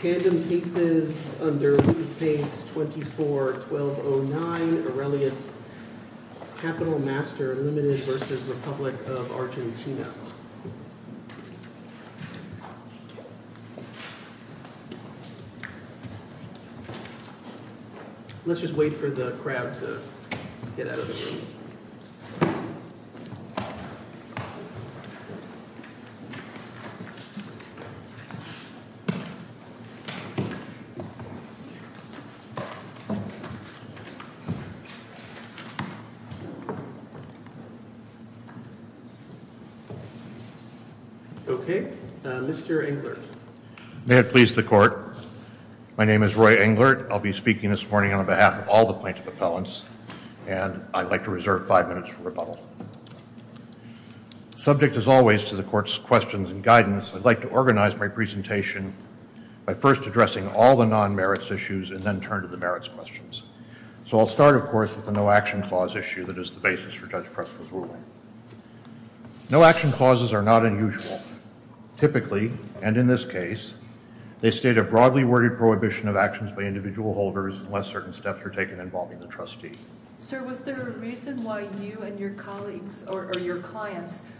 Pandem cases under page 24-1209, Irelia Capital Master Illuminis versus Republic of Argentina. Let's just wait for the crab to get out of the way. Okay, Mr. Englert. May it please the court. My name is Roy Englert. I'll be speaking this morning on behalf of all the plaintiff appellants, and I'd like to reserve five minutes for rebuttal. Subject, as always, to the court's questions and guidance, I'd like to organize my presentation by first addressing all the non-merits issues and then turn to the merits questions. So I'll start, of course, with the no-action clause issue that is the basis for Judge Preston's ruling. No-action clauses are not unusual. Typically, and in this case, they state a broadly worded prohibition of actions by individual holders unless certain steps are taken involving the trustee. Sir, was there a reason why you and your colleagues, or your clients,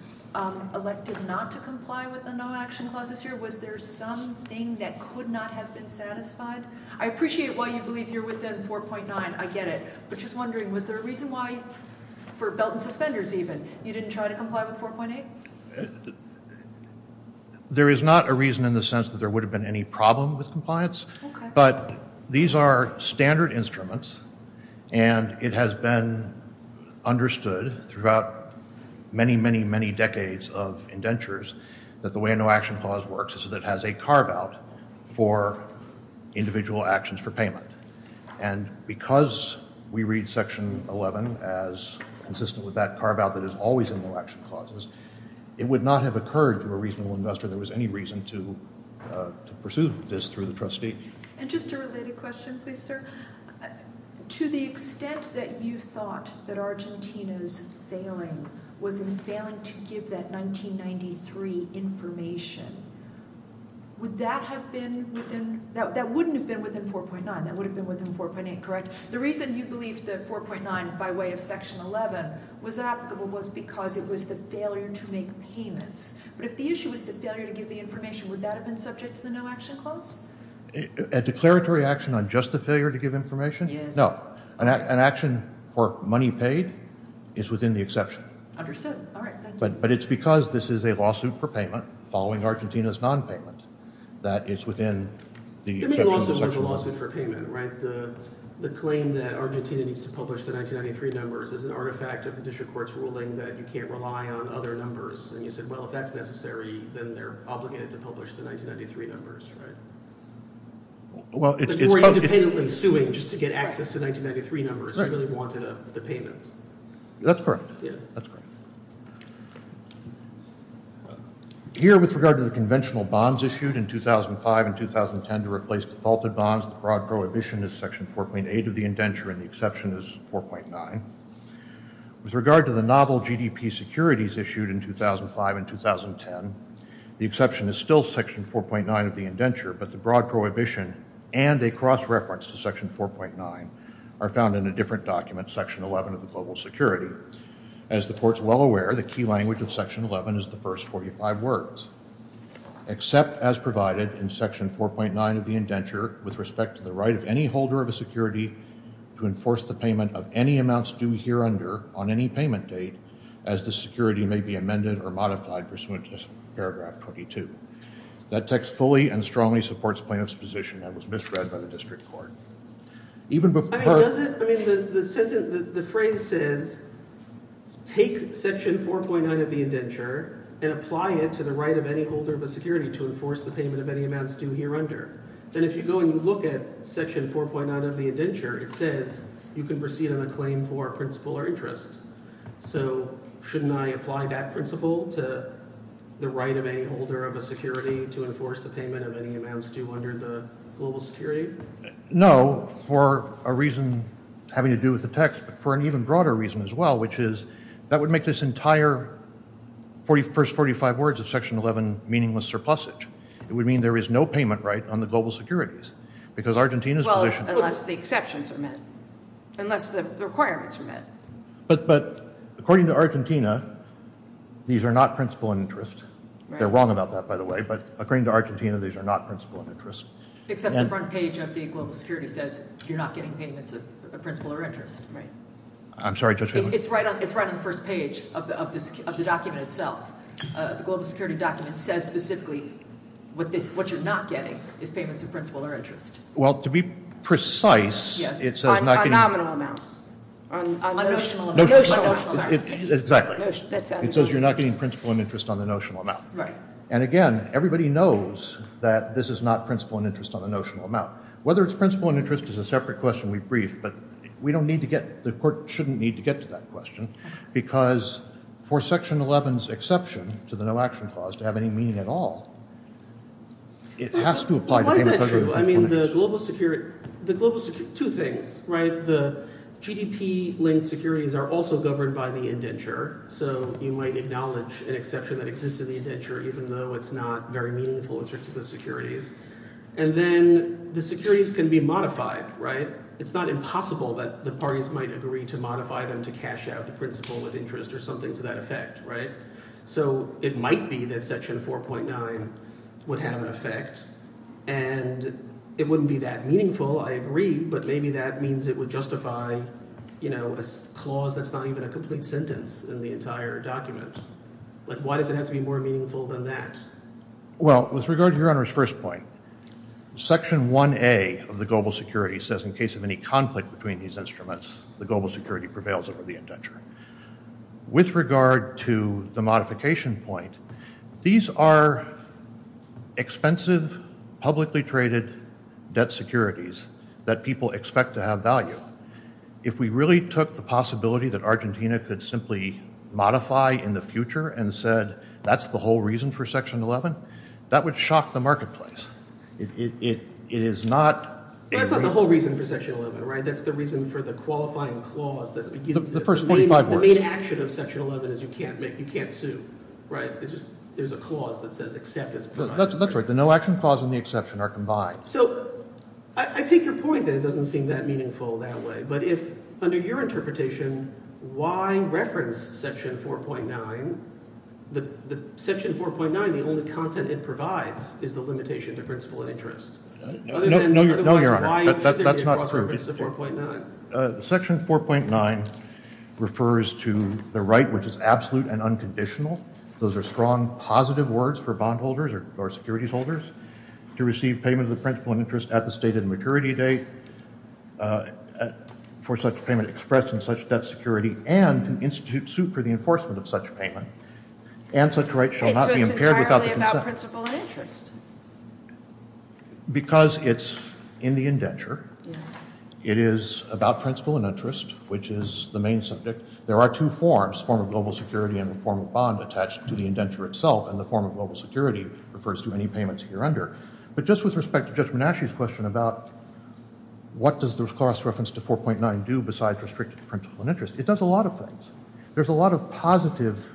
elected not to comply with the no-action clause this year? Was there something that could not have been satisfied? I appreciate why you believe you're within 4.9, I get it, but just wondering, was there a reason why, for belt and suspenders even, you didn't try to comply with 4.8? There is not a reason in the sense that there would have been any problem with compliance, but these are standard instruments, and it has been understood throughout many, many, many decades of indentures that the way a no-action clause works is that it has a carve-out for individual actions for payment. And because we read Section 11 as consistent with that carve-out that is always in the no-action clauses, it would not have occurred to a reasonable investor that there was any reason to pursue this through the trustee. And just a related question, please, sir. To the extent that you thought that Argentina's failing was in failing to give that 1993 information, would that have been within, that wouldn't have been within 4.9, that would have been within 4.8, correct? The reason you believe that 4.9, by way of Section 11, was applicable was because it was the failure to make payments. But if the issue was the failure to give the information, would that have been subject to the no-action clause? A declaratory action on just the failure to give information? No. An action for money paid is within the exception. Understood. All right. Thank you. But you were independently suing just to get access to 1993 numbers. You really wanted a payment. That's correct. Here, with regard to the conventional bonds issued in 2005 and 2010 to replace defaulted bonds, the broad prohibition is Section 4.8 of the indenture and the exception is 4.9. With regard to the novel GDP securities issued in 2005 and 2010, the exception is still Section 4.9 of the indenture, but the broad prohibition and a cross-reference to Section 4.9 are found in a different document, Section 11 of the Global Security. As the court is well aware, the key language of Section 11 is the first 45 words. Except, as provided in Section 4.9 of the indenture, with respect to the right of any holder of a security to enforce the payment of any amounts due hereunder on any payment date, as this security may be amended or modified pursuant to paragraph 22. That text fully and strongly supports plaintiff's position that was misread by the district court. The phrase says, take Section 4.9 of the indenture and apply it to the right of any holder of a security to enforce the payment of any amounts due hereunder. And if you go and look at Section 4.9 of the indenture, it says you can proceed on a claim for principal or interest. So, shouldn't I apply that principle to the right of any holder of a security to enforce the payment of any amounts due under the Global Security? No, for a reason having to do with the text, but for an even broader reason as well, which is that would make this entire first 45 words of Section 11 meaningless surplusage. It would mean there is no payment right on the global securities, because Argentina's position... Well, unless the exceptions are met, unless the requirements are met. But according to Argentina, these are not principal and interest. They're wrong about that, by the way, but according to Argentina, these are not principal and interest. Except the front page of the Global Security says you're not getting payments of principal or interest, right? I'm sorry, Judge Feiglin. It's right on the front and first page of the document itself. The Global Security document says specifically what you're not getting is payments of principal or interest. Well, to be precise, it says... Yes, on nominal amounts. On notional amounts. Exactly. It says you're not getting principal and interest on the notional amount. Right. And again, everybody knows that this is not principal and interest on the notional amount. Whether it's principal and interest is a separate question we've briefed, but we don't need to get... The court shouldn't need to get to that question, because for Section 11's exception to the no action clause to have any meaning at all, it has to apply to... That's true. I mean, the Global Security... Two things, right? The GDP-linked securities are also governed by the indenture, so you might acknowledge an exception that exists in the indenture, even though it's not very meaningful, it's just the securities. And then the securities can be modified, right? It's not impossible that the parties might agree to modify them to cash out the principal and interest or something to that effect, right? So it might be that Section 4.9 would have an effect, and it wouldn't be that meaningful, I agree, but maybe that means it would justify a clause that's not even a complete sentence in the entire document. But why does it have to be more meaningful than that? Well, with regard to Your Honor's first point, Section 1A of the Global Security says in case of any conflict between these instruments, the Global Security prevails over the indenture. With regard to the modification point, these are expensive, publicly traded debt securities that people expect to have value. If we really took the possibility that Argentina could simply modify in the future and said, that's the whole reason for Section 11, that would shock the marketplace. It is not... That's not the whole reason for Section 11, right? That's the reason for the qualifying clause that... The main action of Section 11 is you can't make, you can't sue, right? It's just, there's a clause that doesn't accept it. That's right. The no action clause and the exception are combined. So, I take your point that it doesn't seem that meaningful that way. But if, under your interpretation, why reference Section 4.9? The Section 4.9, the only content it provides is the limitation to principal and interest. No, Your Honor, that's not true. Section 4.9 refers to the right which is absolute and unconditional. Those are strong, positive words for bondholders or securities holders. To receive payment of the principal and interest at the stated maturity date for such payment expressed in such debt security and an institute suit for the enforcement of such payment. And such rights shall not be impaired without the consent... It goes entirely about principal and interest. Because it's in the indenture, it is about principal and interest, which is the main subject. There are two forms, form of global security and form of bond attached to the indenture itself. And the form of global security refers to any payments here under. But just with respect to Judge Menashe's question about what does this clause reference to 4.9 do besides restricted principal and interest? It does a lot of things. There's a lot of positive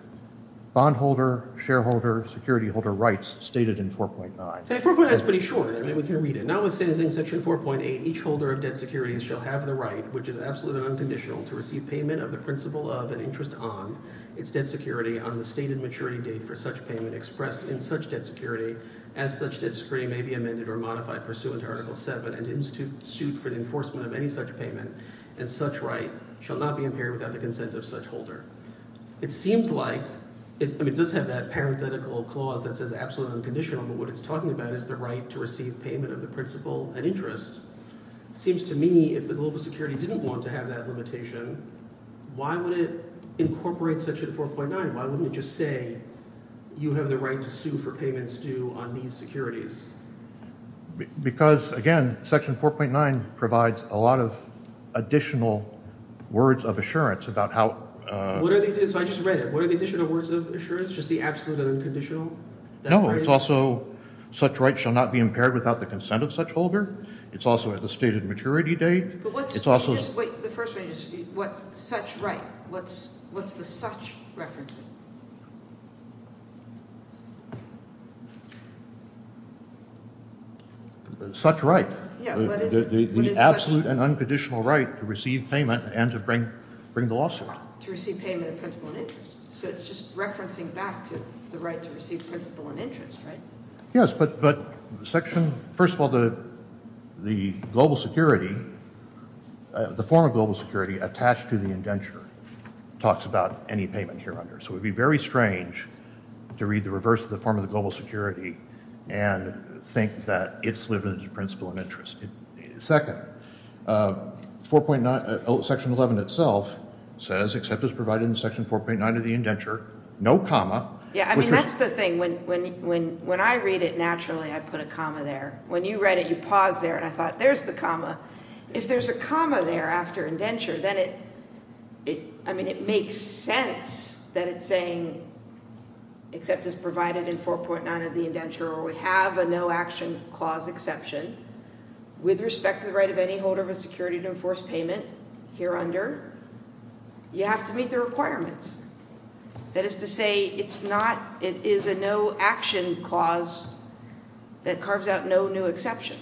bondholder, shareholder, security holder rights stated in 4.9. 4.9 is pretty short. I mean, we can read it. Now it says in Section 4.8, each holder of debt security shall have the right, which is absolute and unconditional, to receive payment of the principal of and interest on its debt security on the stated maturity date for such payment expressed in such debt security as such debt security may be amended or modified pursuant to Article 7 and institute suit for the enforcement of any such payment. And such right shall not be impaired without the consent of such holder. It does have that parenthetical clause that says absolute and unconditional, but what it's talking about is the right to receive payment of the principal and interest. It seems to me if the global security didn't want to have that limitation, why would it incorporate Section 4.9? Why wouldn't it just say you have the right to sue for payments due on these securities? Because, again, Section 4.9 provides a lot of additional words of assurance about how— What are the additional words of assurance? Just the absolute and unconditional? No, it's also such right shall not be impaired without the consent of such holder. It's also at the stated maturity date. But what's— It's also— Wait, the first thing is, what's such right? What's the such record? Such right. The absolute and unconditional right to receive payment and to bring the lawsuit. To receive payment of principal and interest. So it's just referencing back to the right to receive principal and interest, right? Yes, but Section— First of all, the global security, the form of global security attached to the indenture talks about any payment here under it. So it would be very strange to read the reverse of the form of the global security and think that it's limited to principal and interest. Second, Section 11 itself says, except as provided in Section 4.9 of the indenture, no comma. Yeah, I mean, that's the thing. When I read it naturally, I put a comma there. When you read it, you paused there, and I thought, there's the comma. If there's a comma there after indenture, then it—I mean, it makes sense that it's saying, except as provided in 4.9 of the indenture, we have a no-action clause exception with respect to the right of any holder of a security to enforce payment here under. You have to meet the requirements. That is to say, it's not—it is a no-action clause that carves out no new exceptions.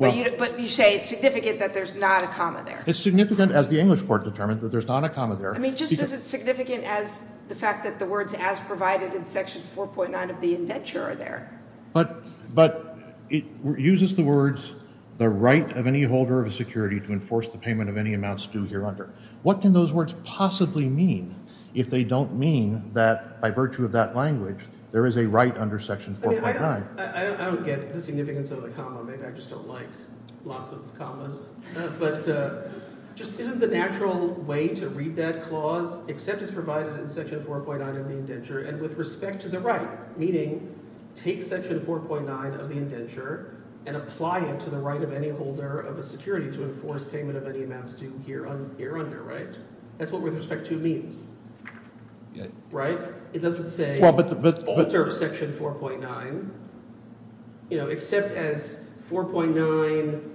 But you say it's significant that there's not a comma there. It's significant, as the English part determines, that there's not a comma there. I mean, just as it's significant as the fact that the words, as provided in Section 4.9 of the indenture, are there. But it uses the words, the right of any holder of a security to enforce the payment of any amounts due here under. What can those words possibly mean if they don't mean that, by virtue of that language, there is a right under Section 4.9? I don't get the significance of a comma. Maybe I just don't like lots of commas. But just isn't the natural way to read that clause, except as provided in Section 4.9 of the indenture, and with respect to the right? Meaning, take Section 4.9 of the indenture and apply it to the right of any holder of a security to enforce payment of any amounts due here under, right? That's what with respect to means, right? It doesn't say, alter Section 4.9, except as 4.9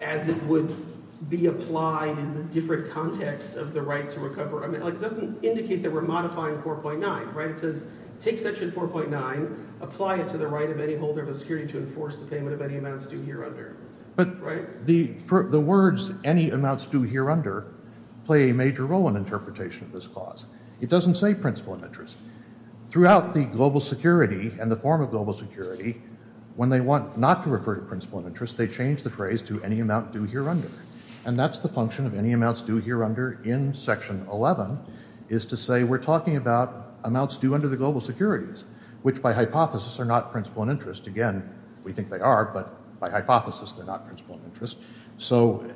as would be applied in different contexts of the right to recover. I mean, it doesn't indicate that we're modifying 4.9, right? It says, take Section 4.9, apply it to the right of any holder of a security to enforce the payment of any amounts due here under, right? But the words, any amounts due here under, play a major role in interpretation of this clause. It doesn't say principal and interest. Throughout the global security and the form of global security, when they want not to refer to principal and interest, they change the phrase to any amount due here under. And that's the function of any amounts due here under in Section 11, is to say we're talking about amounts due under the global securities, which by hypothesis are not principal and interest. Again, we think they are, but by hypothesis they're not principal and interest. So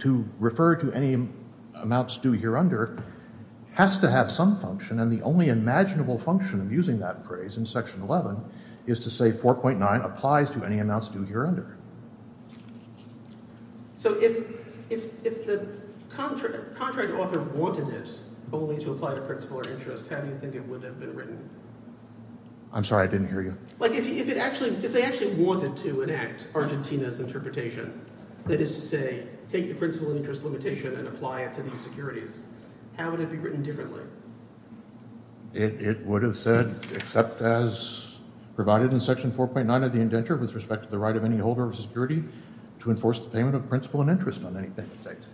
to refer to any amounts due here under has to have some function, and the only imaginable function of using that phrase in Section 11 is to say 4.9 applies to any amounts due here under. So if the contract author wanted this only to apply it to principal and interest, how do you think it would have been written? I'm sorry, I didn't hear you. If they actually wanted to enact Argentina's interpretation, that is to say, take the principal and interest limitation and apply it to the securities, how would it be written differently? It would have said, except as provided in Section 4.9 of the indenture with respect to the right of any holder of security to enforce the payment of principal and interest on anything it states.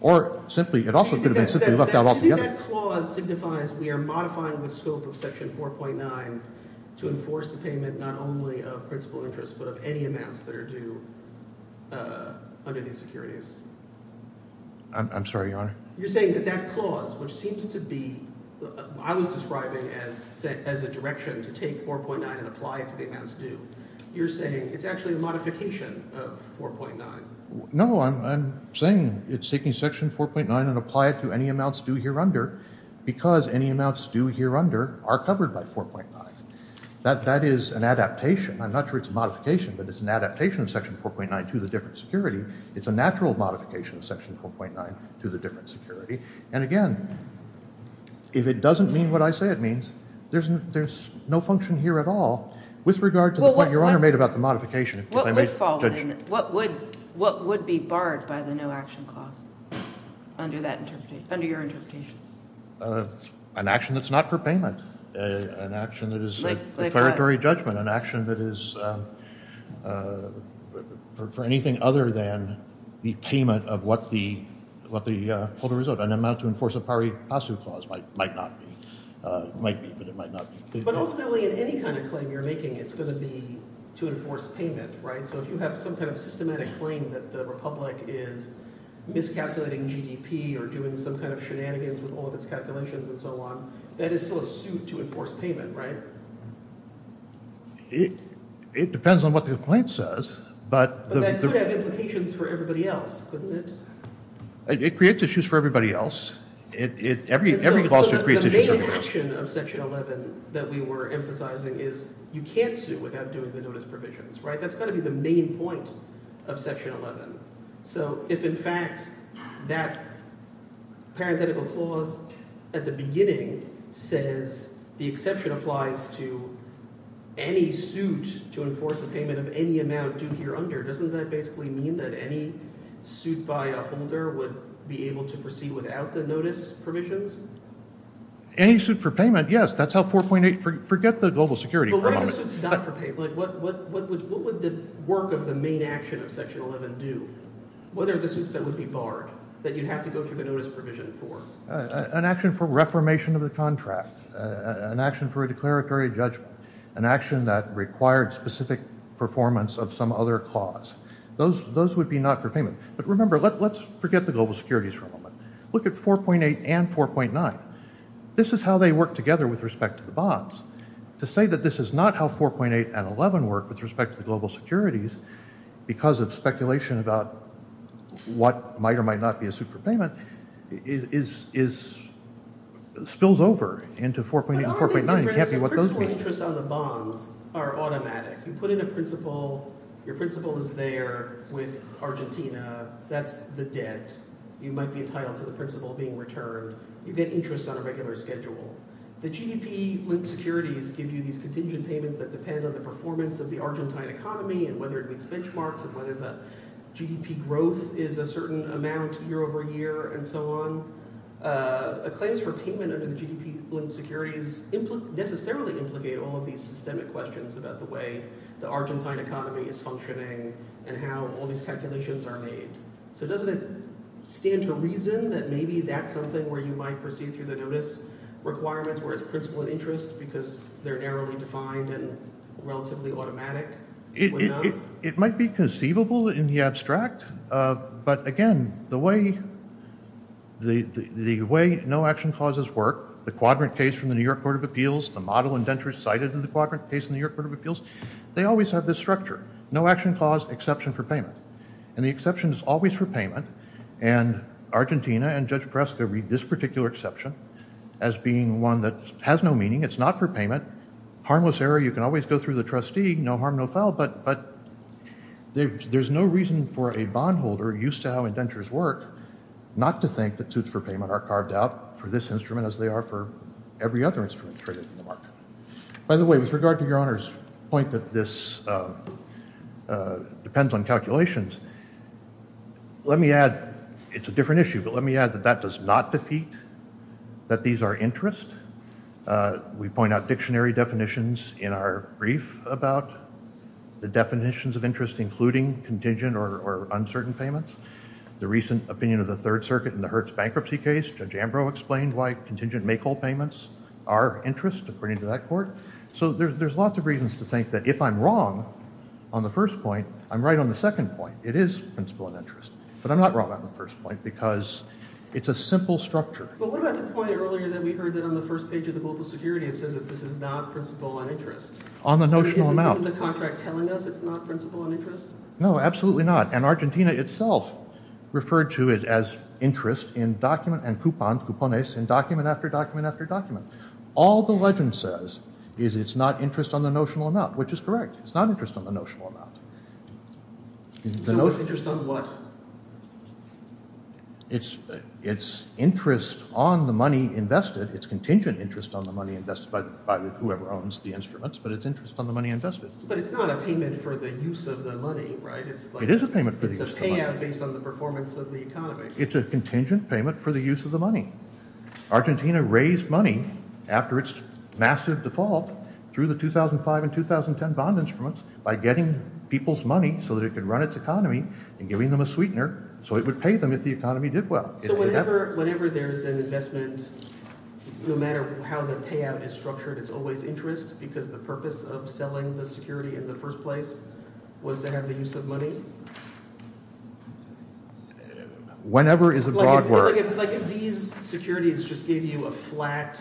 Or simply, it also could have been simply left out altogether. That clause signifies we are modifying the scope of Section 4.9 to enforce the payment not only of principal and interest, but of any amounts that are due under these securities. I'm sorry, Your Honor. You're saying that that clause, which seems to be, I was describing as a direction to take 4.9 and apply it to the amounts due, you're saying it's actually a modification of 4.9. No, I'm saying it's taking Section 4.9 and apply it to any amounts due here under, because any amounts due here under are covered by 4.9. That is an adaptation. I'm not sure it's a modification, but it's an adaptation of Section 4.9 to the different security. It's a natural modification of Section 4.9 to the different security. And again, if it doesn't mean what I say it means, there's no function here at all with regard to the point Your Honor made about the modification. What would be barred by the no action clause under your interpretation? An action that's not for payment. An action that is a declaratory judgment. An action that is for anything other than the payment of what the total result. An amount to enforce a pari passu clause might be, but it might not be. But ultimately, in any kind of claim you're making, it's going to be to enforce payment, right? So if you have some kind of systematic claim that the republic is miscalculating GDP or doing some kind of shenanigans with all of its calculations and so on, that is still a suit to enforce payment, right? It depends on what the complaint says. But that could have implications for everybody else, couldn't it? It creates issues for everybody else. The main exception of Section 11 that we were emphasizing is you can't sue without doing the notice of provisions, right? That's got to be the main point of Section 11. So if, in fact, that parenthetical clause at the beginning says the exception applies to any suit to enforce a payment of any amount due here under, doesn't that basically mean that any suit by a holder would be able to proceed without the notice provisions? Any suit for payment, yes. That's how 4.8—forget the global security problem. What would the work of the main action of Section 11 do? What are the suits that would be barred that you'd have to go through the notice provision for? An action for reformation of the contract. An action for a declaratory judgment. An action that required specific performance of some other clause. Those would be not for payment. But remember, let's forget the global securities problem. Look at 4.8 and 4.9. This is how they work together with respect to the bonds. To say that this is not how 4.8 and 11 work with respect to global securities, because of speculation about what might or might not be a suit for payment, spills over into 4.8 and 4.9. You can't do what those mean. The interest on the bond are automatic. You put in a principal. Your principal is there with Argentina. That's the debt. You might be entitled to the principal being returned. You get interest on a regular schedule. The GDP linked securities give you these contingent payments that depend on the performance of the Argentine economy and whether it meets benchmarks, and whether the GDP growth is a certain amount year over year, and so on. A claim for payment of the GDP linked securities doesn't necessarily implicate all of these systemic questions about the way the Argentine economy is functioning and how all these calculations are made. So doesn't it stand to reason that maybe that's something where you might proceed to the newest requirements where it's principal interest, because they're narrowly defined and relatively automatic? It might be conceivable in the abstract. But again, the way no-action clauses work, the quadrant case from the New York Court of Appeals, the model indentures cited in the quadrant case in the New York Court of Appeals, they always have this structure. No-action clause, exception for payment. And the exception is always for payment. And Argentina and Judge Presta read this particular exception as being one that has no meaning. It's not for payment. Harmless error, you can always go through the trustee. No harm, no foul. But there's no reason for a bondholder, used to how indentures work, not to think that suits for payment are carved out for this instrument as they are for every other instrument traded in the market. By the way, with regard to Your Honor's point that this depends on calculations, let me add, it's a different issue, but let me add that that does not defeat that these are interest. We point out dictionary definitions in our brief about the definitions of interest, including contingent or uncertain payments. The recent opinion of the Third Circuit in the Hertz bankruptcy case, Judge Ambrose explained why contingent make-all payments are of interest according to that court. So there's lots of reasons to think that if I'm wrong on the first point, I'm right on the second point. It is principle of interest. But I'm not wrong on the first point because it's a simple structure. But what about the point earlier that we heard that on the first page of the Books of Security, it said that this is not principle of interest? On the notional amount. But isn't the contract telling us it's not principle of interest? No, absolutely not. And Argentina itself referred to it as interest in document and coupons, in document after document after document. All the legend says is it's not interest on the notional amount, which is correct. It's not interest on the notional amount. Not interest on what? It's interest on the money invested. It's contingent interest on the money invested by whoever owns the instruments, but it's interest on the money invested. But it's not a payment for the use of the money, right? It is a payment for the use of the money. Based on the performance of the economy. It's a contingent payment for the use of the money. Argentina raised money after its massive default through the 2005 and 2010 bond instruments by getting people's money so that it could run its economy and giving them a sweetener so it would pay them if the economy did well. So whenever there's an investment, no matter how the payout is structured, it's always interest because the purpose of selling the security in the first place was to have the use of money? Whenever is a broad word. Like if these securities just gave you a flat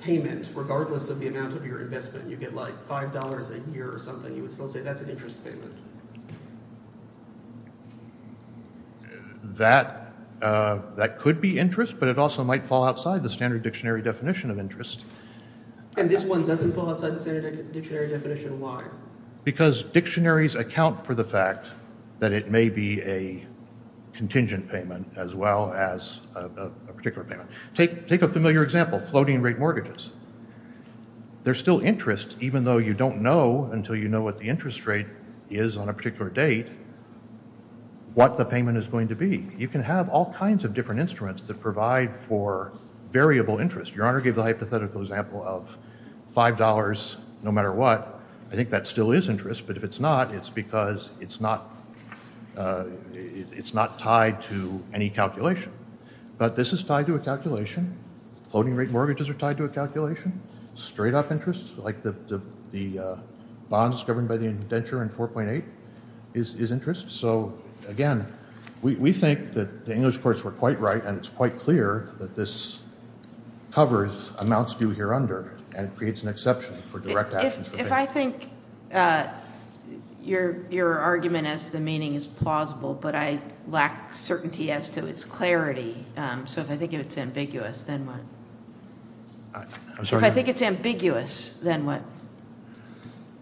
payment, regardless of the amount of your investment, you get like $5 a year or something, you would still say that's an interest payment. That could be interest, but it also might fall outside the standard dictionary definition of interest. And this one doesn't fall outside the standard dictionary definition, why? Because dictionaries account for the fact that it may be a contingent payment as well as a particular payment. Take a familiar example, floating rate mortgages. There's still interest even though you don't know until you know what the interest rate is on a particular date what the payment is going to be. You can have all kinds of different instruments that provide for variable interest. Your honor gave the hypothetical example of $5 no matter what. I think that still is interest, but if it's not, it's because it's not tied to any calculation. But this is tied to a calculation. Floating rate mortgages are tied to a calculation. Straight off interest, like the bonds governed by the indenture in 4.8 is interest. So again, we think that the English parts were quite right, and it's quite clear that this covers amounts due here under, and it creates an exception for direct action. If I think your argument as to the meaning is plausible, but I lack certainty as to its clarity, so if I think it's ambiguous, then what? I'm sorry? If I think it's ambiguous, then what?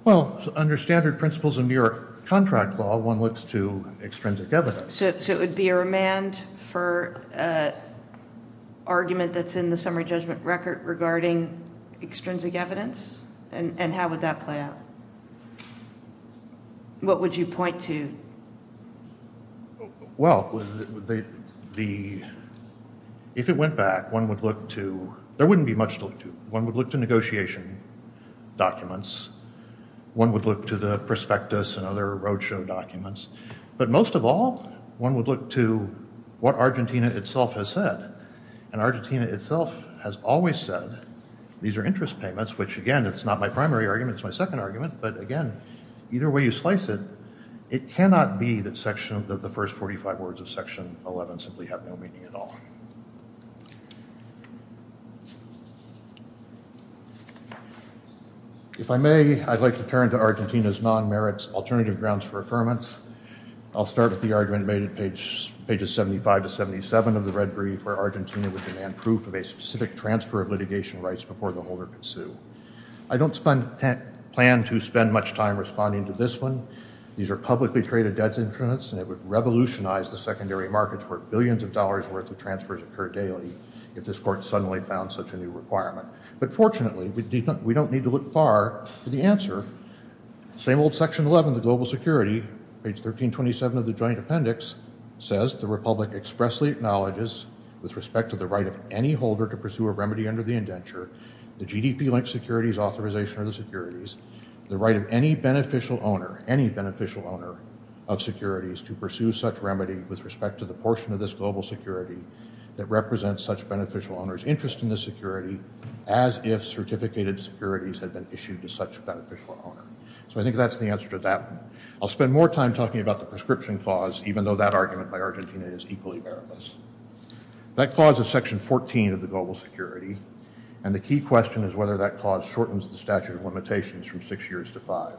Well, under standard principles of your contract law, one looks to extrinsic evidence. So it would be a remand for an argument that's in the summary judgment record regarding extrinsic evidence? And how would that play out? What would you point to? Well, if it went back, there wouldn't be much to look to. One would look to negotiation documents. One would look to the prospectus and other roadshow documents. But most of all, one would look to what Argentina itself has said. And Argentina itself has always said, these are interest payments, which again, it's not my primary argument, it's my second argument, but again, either way you slice it, it cannot be that the first 45 words of Section 11 simply have no meaning at all. If I may, I'd like to turn to Argentina's non-merits alternative grounds for affirmance. I'll start with the argument made at pages 75 to 77 of the Red Brief, where Argentina would demand proof of a specific transfer of litigation rights before the holder could sue. I don't plan to spend much time responding to this one. These are publicly traded debts insurance, and it would revolutionize the secondary markets where billions of dollars worth of transfers occur daily if this court suddenly found such a new requirement. But fortunately, we don't need to look far for the answer. Same old Section 11 of the Global Security, page 1327 of the Joint Appendix, says the Republic expressly acknowledges, with respect to the right of any holder to pursue a remedy under the indenture, the GDP-linked securities authorization of the securities, the right of any beneficial owner of securities to pursue such remedy with respect to the portion of this global security that represents such beneficial owner's interest in the security, as if certificated securities had been issued to such a beneficial owner. So I think that's the answer to that one. I'll spend more time talking about the prescription clause, even though that argument by Argentina is equally bearable. That clause is Section 14 of the Global Security, and the key question is whether that clause shortens the statute of limitations from six years to five.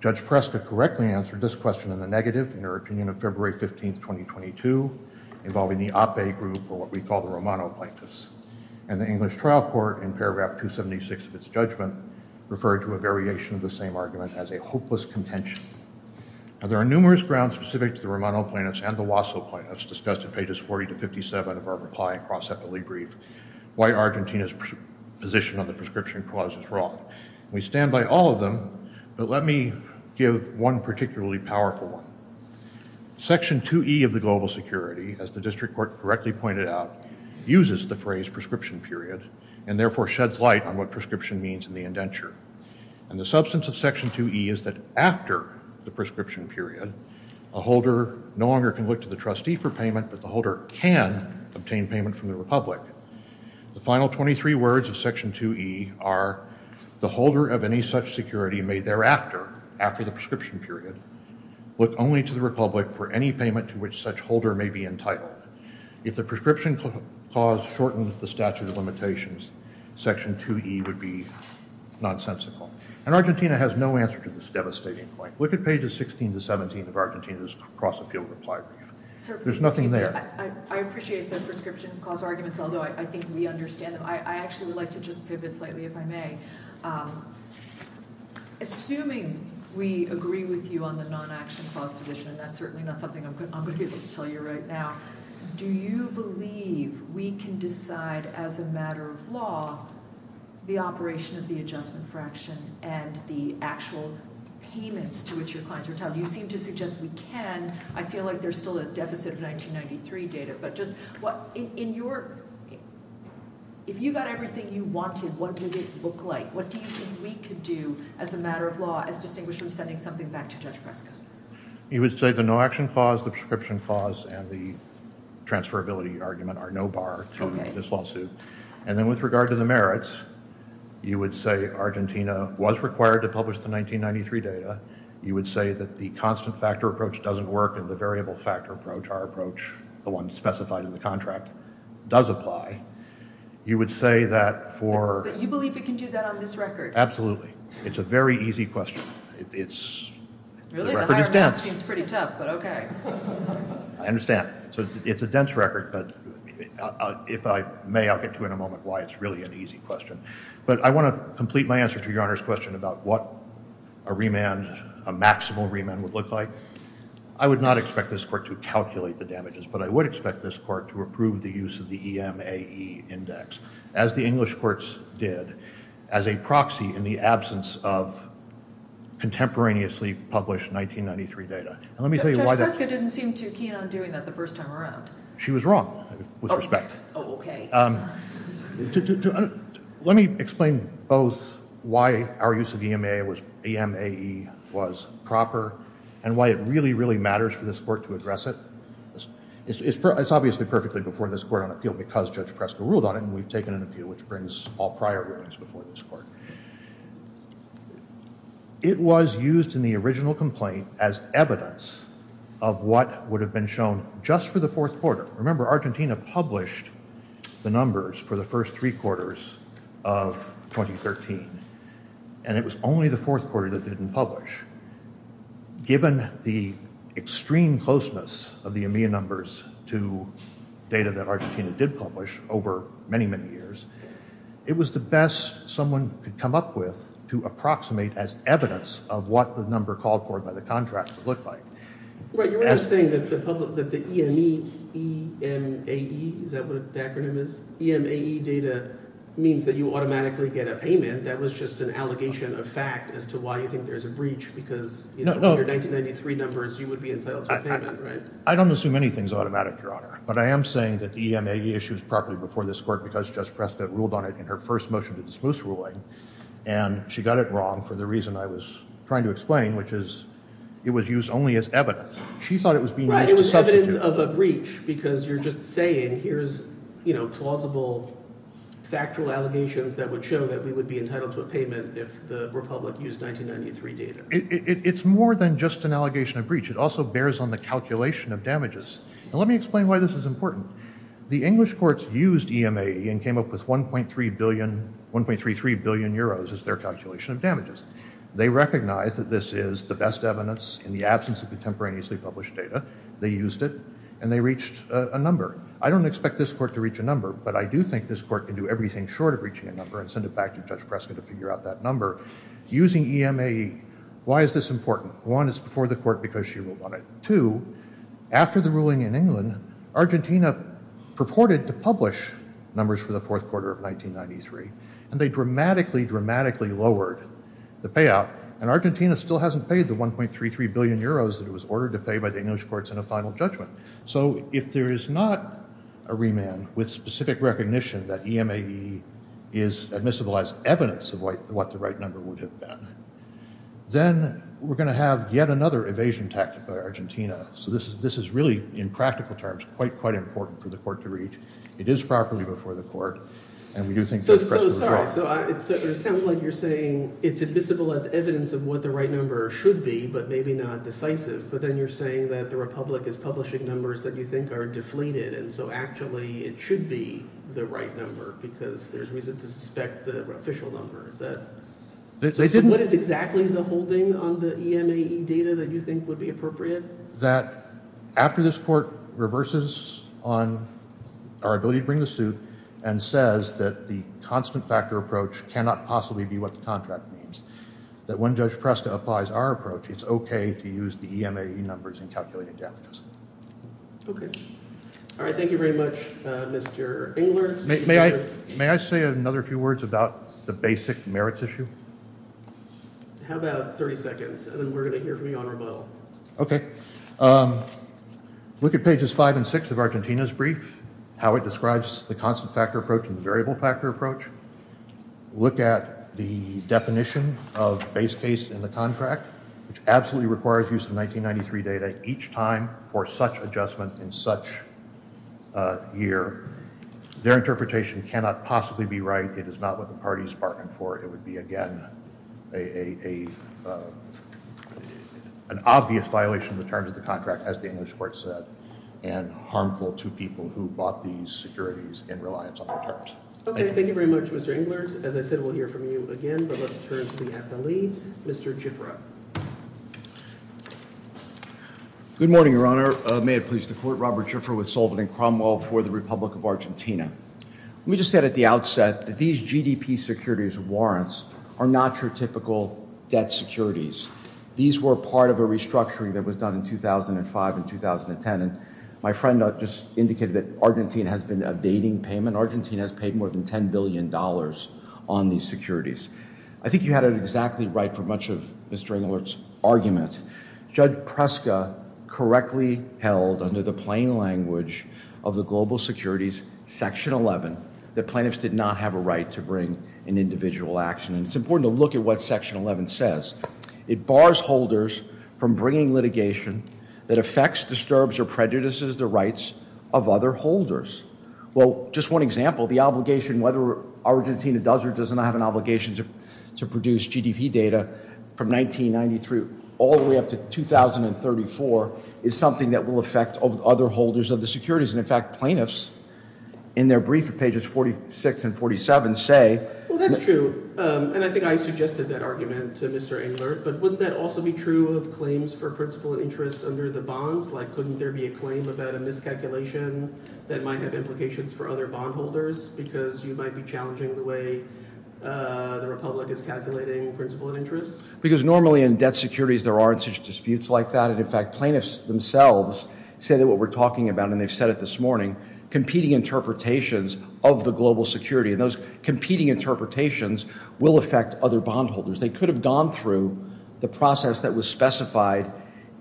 Judge Prescott correctly answered this question in the negative in her opinion of February 15, 2022, involving the APE group, or what we call the Romano plaintiffs. And the English trial court, in paragraph 276 of its judgment, referred to a variation of the same argument as a hopeless contention. Now there are numerous grounds specific to the Romano plaintiffs and the Wasso plaintiffs discussed in pages 40 to 57 of our reply and cross-sectorly brief. Why Argentina's position on the prescription clause is wrong. We stand by all of them, but let me give one particularly powerful one. Section 2E of the Global Security, as the district court correctly pointed out, uses the phrase prescription period, and therefore sheds light on what prescription means in the indenture. And the substance of Section 2E is that after the prescription period, a holder no longer can look to the trustee for payment, but the holder can obtain payment from the Republic. The final 23 words of Section 2E are, the holder of any such security may thereafter, after the prescription period, look only to the Republic for any payment to which such holder may be entitled. If the prescription clause shortens the statute of limitations, Section 2E would be nonsensical. And Argentina has no answer to this devastating point. Look at pages 16 to 17 of Argentina's cross-appeal reply. There's nothing there. I appreciate that prescription clause argument, although I think we understand it. I'd actually like to just pivot slightly, if I may. Assuming we agree with you on the non-action clause division, and that's certainly not something I'm going to be able to tell you right now, do you believe we can decide as a matter of law the operation of the adjustment fraction, and the actual payments to which your clients are entitled? You seem to suggest we can. And I feel like there's still a deficit of 1993 data. But if you got everything you wanted, what did it look like? What do you think we could do as a matter of law as distinguished from sending something back to adjustment? You would say the no-action clause, the prescription clause, and the transferability argument are no bar to this lawsuit. And then with regard to the merits, you would say Argentina was required to publish the 1993 data. You would say that the constant factor approach doesn't work and the variable factor approach, our approach, the one specified in the contract, does apply. You would say that for... But you believe we can do that on this record? Absolutely. It's a very easy question. Really? The record is dense. It seems pretty tough, but okay. I understand. So it's a dense record, but if I may, I'll get to it in a moment, why it's really an easy question. But I want to complete my answer to Your Honor's question about what a remand, a maximal remand, would look like. I would not expect this court to calculate the damages, but I would expect this court to approve the use of the EMAE index, as the English courts did, as a proxy in the absence of contemporaneously published 1993 data. And let me tell you why that... But Jessica didn't seem too keen on doing that the first time around. She was wrong, with respect. Oh, okay. Let me explain both why our use of EMAE was proper and why it really, really matters for this court to address it. It's obviously perfectly before this court on appeal because Judge Preston ruled on it, and we've taken an appeal which brings all prior hearings before this court. It was used in the original complaint as evidence of what would have been shown just for the fourth quarter. Remember, Argentina published the numbers for the first three quarters of 2013, and it was only the fourth quarter that they didn't publish. Given the extreme closeness of the EMAE numbers to data that Argentina did publish over many, many years, it was the best someone could come up with to approximate as evidence of what the number called for by the contract would look like. Well, you're not saying that the EMAE data means that you automatically get a payment. That was just an allegation of fact as to why you think there's a breach because your 1993 numbers, you would be entitled to a payment, right? I don't assume anything's automatic, Your Honor, but I am saying that EMAE issues properly before this court because Judge Preston ruled on it in her first motion to dismiss the ruling, and she got it wrong for the reason I was trying to explain, which is it was used only as evidence. She thought it was being used as evidence. It was evidence of a breach because you're just saying here's, you know, plausible, factual allegations that would show that we would be entitled to a payment if the Republic used 1993 data. It's more than just an allegation of breach. It also bears on the calculation of damages. Let me explain why this is important. The English courts used EMAE and came up with 1.33 billion euros as their calculation of damages. They recognized that this is the best evidence in the absence of contemporaneously published data. They used it, and they reached a number. I don't expect this court to reach a number, but I do think this court can do everything short of reaching a number and send it back to Judge Preston to figure out that number. Using EMAE, why is this important? One, it's before the court because she ruled on it. Two, after the ruling in England, Argentina purported to publish numbers for the fourth quarter of 1993, and they dramatically, dramatically lowered the payout. And Argentina still hasn't paid the 1.33 billion euros that was ordered to pay by the English courts in the final judgment. So if there is not a remand with specific recognition that EMAE is admissible as evidence of what the right number would have been, then we're going to have yet another evasion tactic by Argentina. So this is really, in practical terms, quite, quite important for the court to reach. It is properly before the court, and we do think Judge Preston is right. So, so, sorry. So it sounds like you're saying it's admissible as evidence of what the right number should be, but maybe not decisive. But then you're saying that the Republic is publishing numbers that you think are deflated, and so actually it should be the right number because there's reason to suspect the official number. That they didn't... What is exactly the holding on the EMAE data that you think would be appropriate? That after this court reverses on our ability to bring the suit and says that the constant factor approach cannot possibly be what the contract means, that when Judge Preston applies our approach, it's okay to use the EMAE numbers in calculating damages. Okay. All right, thank you very much, Mr. Engler. May I say another few words about the basic merits issue? How about 30 seconds, and then we're going to hear from you on rebuttal. Okay. Look at pages five and six of Argentina's brief, how it describes the constant factor approach and the variable factor approach. Look at the definition of base case in the contract, which absolutely requires use of 1993 data each time for such adjustment in such a year. Their interpretation cannot possibly be right. It is not what the party is arguing for. It would be, again, an obvious violation in terms of the contract, as the English court said, and harmful to people who bought these securities and reliance on the terms. Okay, thank you very much, Mr. Engler. As I said, we'll hear from you again, but let's turn to the FLE, Mr. Gifford. Good morning, Your Honor. May it please the Court, Robert Gifford with Sullivan and Cromwell for the Republic of Argentina. We just said at the outset that these GDP securities warrants are not your typical debt securities. These were part of a restructuring that was done in 2005 and 2010, and my friend just indicated that Argentina has been abating payment. Argentina has paid more than $10 billion on these securities. I think you had it exactly right for much of Mr. Engler's argument. Judge Preska correctly held, under the plain language of the global securities, Section 11, that plaintiffs did not have a right to bring an individual action. It's important to look at what Section 11 says. It bars holders from bringing litigation that affects, disturbs, or prejudices the rights of other holders. Well, just one example, the obligation, whether Argentina does or does not have an obligation to produce GDP data from 1993 all the way up to 2034 is something that will affect other holders of the securities, and in fact, plaintiffs, in their brief at pages 46 and 47, say... Well, that's true, and I think I suggested that argument to Mr. Engler, but wouldn't that also be true of claims for principal and interest under the bond? Like, couldn't there be a claim about a miscalculation that might have implications for other bondholders because you might be challenging the way the Republic is calculating principal and interest? Because normally in debt securities there aren't such disputes like that, and in fact, plaintiffs themselves say that what we're talking about, and they said it this morning, competing interpretations of the global security, and those competing interpretations will affect other bondholders. They could have gone through the process that was specified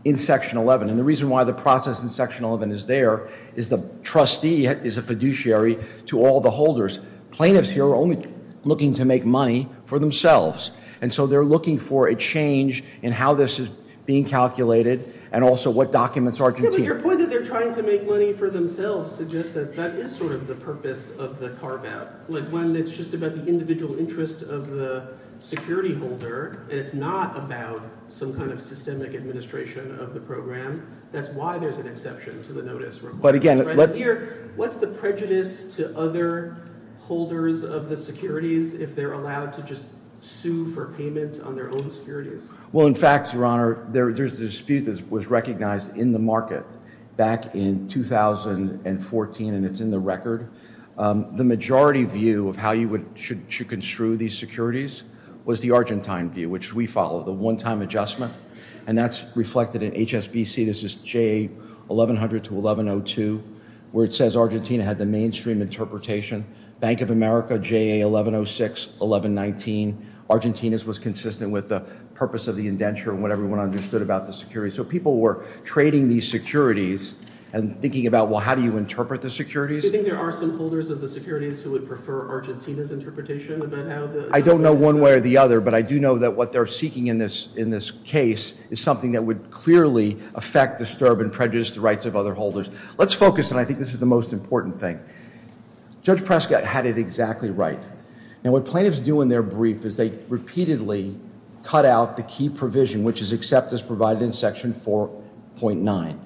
in Section 11, and the reason why the process in Section 11 is there is the trustee is a fiduciary to all the holders. Plaintiffs here are only looking to make money for themselves, and so they're looking for a change in how this is being calculated and also what documents are contained. Yeah, but your point that they're trying to make money for themselves suggests that that is sort of the purpose of the CARBAP, like, one that's just about the individual interest of the security holder, and it's not about some kind of systemic administration of the program. That's why there's an exception to the notice required. But again, let's hear, what's the prejudice to other holders of the securities if they're allowed to just sue for payment on their own securities? Well, in fact, Your Honor, there's a dispute that was recognized in the market back in 2014, and it's in the record. The majority view of how you should construe these securities was the Argentine view, which we follow, the one-time adjustment, and that's reflected in HSBC. This is JA 1100 to 1102, where it says Argentina had the mainstream interpretation. Bank of America, JA 1106, 1119, Argentina's was consistent with the purpose of the indenture and what everyone understood about the security. So people were trading these securities and thinking about, well, how do you interpret the securities? Do you think there are some holders of the securities who would prefer Argentina's interpretation of that ad? I don't know one way or the other, but I do know that what they're seeking in this case is something that would clearly affect, disturb, and prejudice the rights of other holders. Let's focus, and I think this is the most important thing. Judge Prescott had it exactly right, and what plaintiffs do in their brief is they repeatedly cut out the key provision, which is acceptance provided in Section 4.9.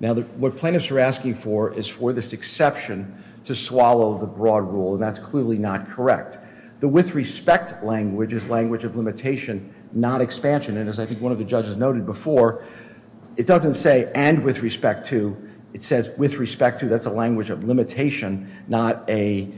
Now, what plaintiffs are asking for is for this exception to swallow the broad rule, and that's clearly not correct. The with respect language is language of limitation, not expansion, and as I think one of the judges noted before, it doesn't say and with respect to. It says with respect to. That's a language of limitation, not a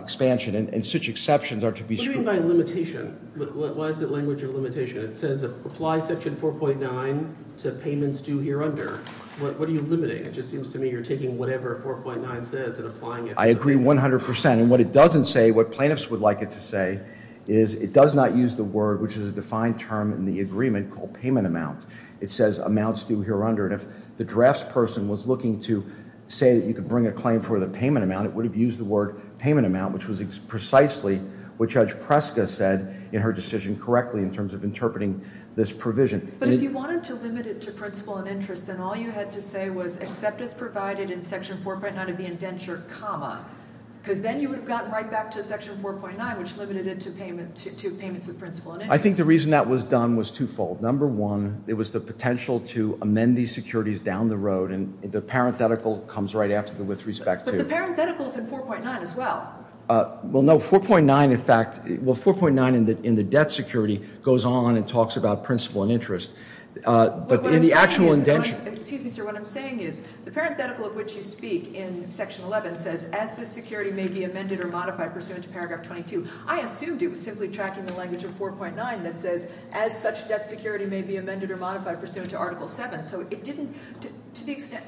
expansion, and such exceptions are to be... What do you mean by limitation? What is the language of limitation? It says apply Section 4.9 to payments due here under. What are you limiting? It just seems to me you're taking whatever 4.9 says and applying it. I agree 100%, and what it doesn't say, what plaintiffs would like it to say is it does not use the word, which is a defined term in the agreement called payment amount. It says amounts due here under, and if the drafts person was looking to say that you could bring a claim for the payment amount, it would have used the word payment amount, which was precisely what Judge Presta said in her decision correctly in terms of interpreting this provision. But if you wanted to limit it to principal and interest, then all you had to say was acceptance provided in Section 4.9 of the indenture, because then you would have gotten right back to Section 4.9, which limited it to payments of principal and interest. I think the reason that was done was twofold. Number one, it was the potential to amend these securities down the road, and the parenthetical comes right after with respect to... But the parenthetical is in 4.9 as well. Well, no. 4.9, in fact, well, 4.9 in the debt security goes on and talks about principal and interest. But in the actual indenture... Excuse me, sir. What I'm saying is the parenthetical of which you speak in Section 11 says, as such security may be amended or modified pursuant to Paragraph 22. I assumed you were simply tracking the language of 4.9 that says, as such debt security may be amended or modified pursuant to Article 7. So it didn't... To the extent...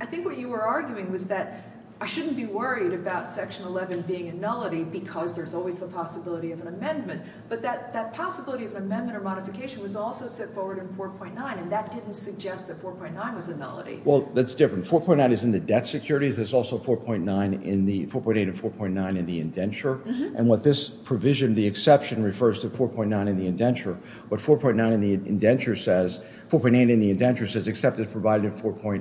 I think what you were arguing was that I shouldn't be worried about Section 11 being a nullity because there's always a possibility of an amendment. But that possibility of an amendment or modification was also put forward in 4.9, and that didn't suggest that 4.9 was a nullity. Well, that's different. 4.9 is in the debt securities. It's also 4.9 in the... 4.8 and 4.9 in the indenture. Mm-hmm. And what this provision, the exception, refers to 4.9 in the indenture. But 4.9 in the indenture says... 4.8 in the indenture says except it's provided in 4.8